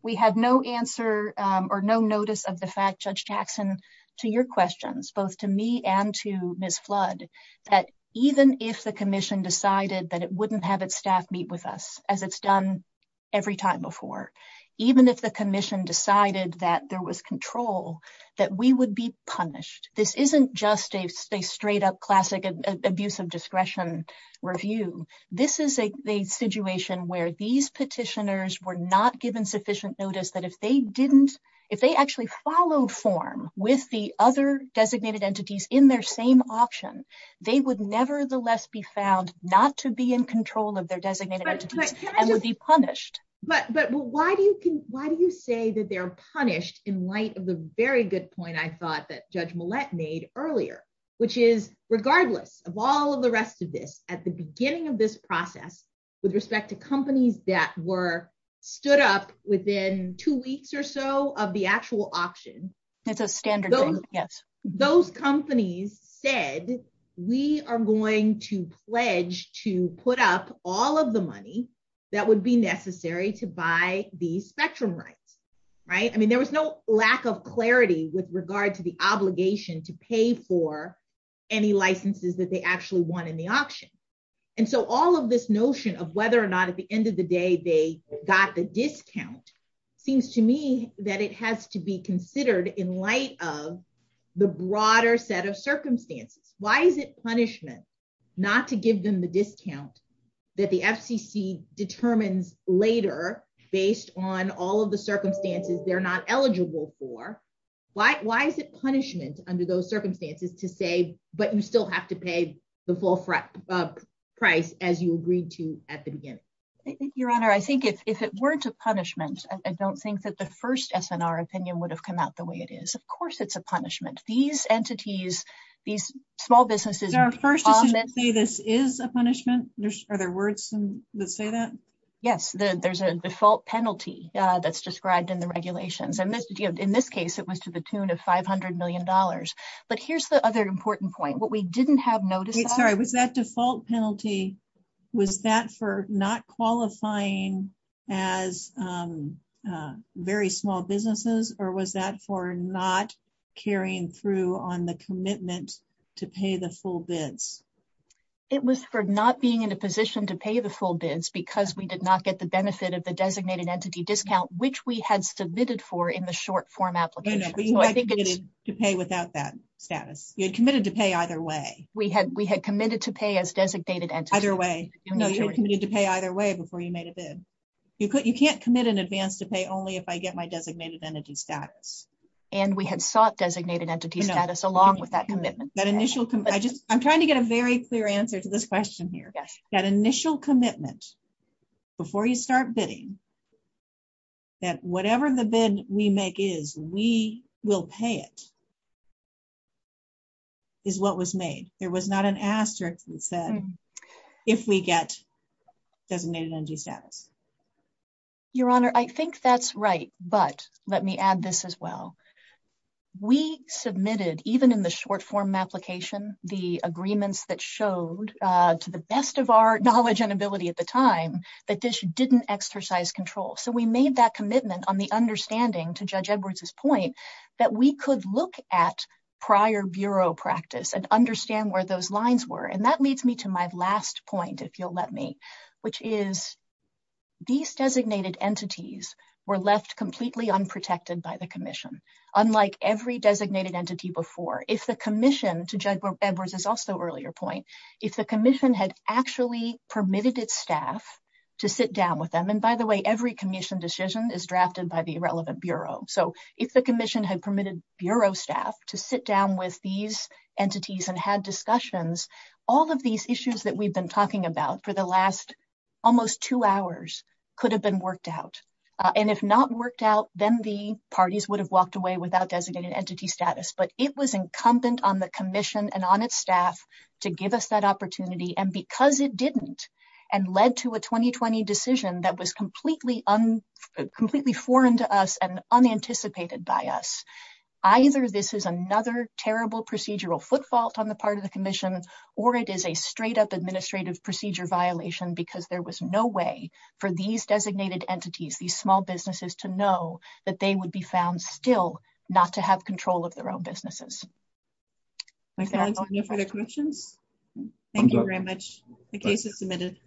We have no answer or no notice of the fact, Judge Jackson, to your questions, both to me and to Ms. Flood, that even if the commission decided that it wouldn't have its staff meet with us, as it's done every time before, even if the commission decided that there was control, that we would be punished. This isn't just a straight-up classic abuse of discretion review. This is a situation where these petitioners were not given sufficient notice that if they actually followed form with the other designated entities in their same auction, they would nevertheless be found not to be in control of their designated entities and would be punished. But why do you say that they're punished in light of the very good point I thought that Judge Millett made earlier, which is regardless of all of the rest of this, at the beginning of this process, with respect to companies that were stood up within two weeks or so of the actual auction, those companies said, we are going to pledge to put up all of the money that would be necessary to buy the spectrum rights. I mean, there was no lack of clarity with regard to the obligation to pay for any licenses that they actually want in the auction. And so all of this notion of whether or not at the end of the day they got the discount, seems to me that it has to be considered in light of the broader set of circumstances. Why is it punishment not to give them the discount that the FCC determines later based on all of the Why is it punishment under those circumstances to say, but you still have to pay the full price as you agreed to at the beginning? Your Honor, I think if it weren't a punishment, I don't think that the first SNR opinion would have come out the way it is. Of course, it's a punishment. These entities, these small businesses Is a punishment? Are there words that say that? Yes, there's a default penalty that's described in the regulations. And in this case, it was to the tune of $500 million. But here's the other important point, what we didn't have notice. Sorry, was that default penalty? Was that for not qualifying as very small businesses? Or was that for not carrying through on the commitment to pay the full bids? It was for not being in a position to pay the full bids because we did not get the benefit of the designated entity discount, which we had submitted for in the short form application. But you had committed to pay without that status. You had committed to pay either way. We had committed to pay as designated entity. Either way. No, you had committed to pay either way before you made a bid. You can't commit in advance to pay only if I get my designated entity status. And we had sought designated entity status along with that commitment. That initial commitment. I'm trying to get a very clear answer to this question here. That initial commitment before you start bidding, that whatever the bid we make is, we will pay it, is what was made. There was not an asterisk that said, if we get designated entity status. Your Honor, I think that's right. But let me add this as well. We submitted, even in the knowledge and ability at the time, that this didn't exercise control. So we made that commitment on the understanding, to Judge Edwards's point, that we could look at prior Bureau practice and understand where those lines were. And that leads me to my last point, if you'll let me, which is, these designated entities were left completely unprotected by the commission. Unlike every designated entity before, if the commission, to Judge Edwards's also earlier point, if the commission had actually permitted its staff to sit down with them, and by the way, every commission decision is drafted by the relevant Bureau. So if the commission had permitted Bureau staff to sit down with these entities and had discussions, all of these issues that we've been talking about for the last almost two hours could have been worked out. And if not worked out, then the parties would have walked away without designated entity status. But it was incumbent on the commission and on its staff to give us that opportunity. And because it didn't, and led to a 2020 decision that was completely foreign to us and unanticipated by us, either this is another terrible procedural footfault on the part of the commission, or it is a straight up administrative procedure violation, because there was no way for these designated entities, these small businesses, to know that they would be found still not to have control of their own businesses. Any further questions? Thank you very much. The case is submitted.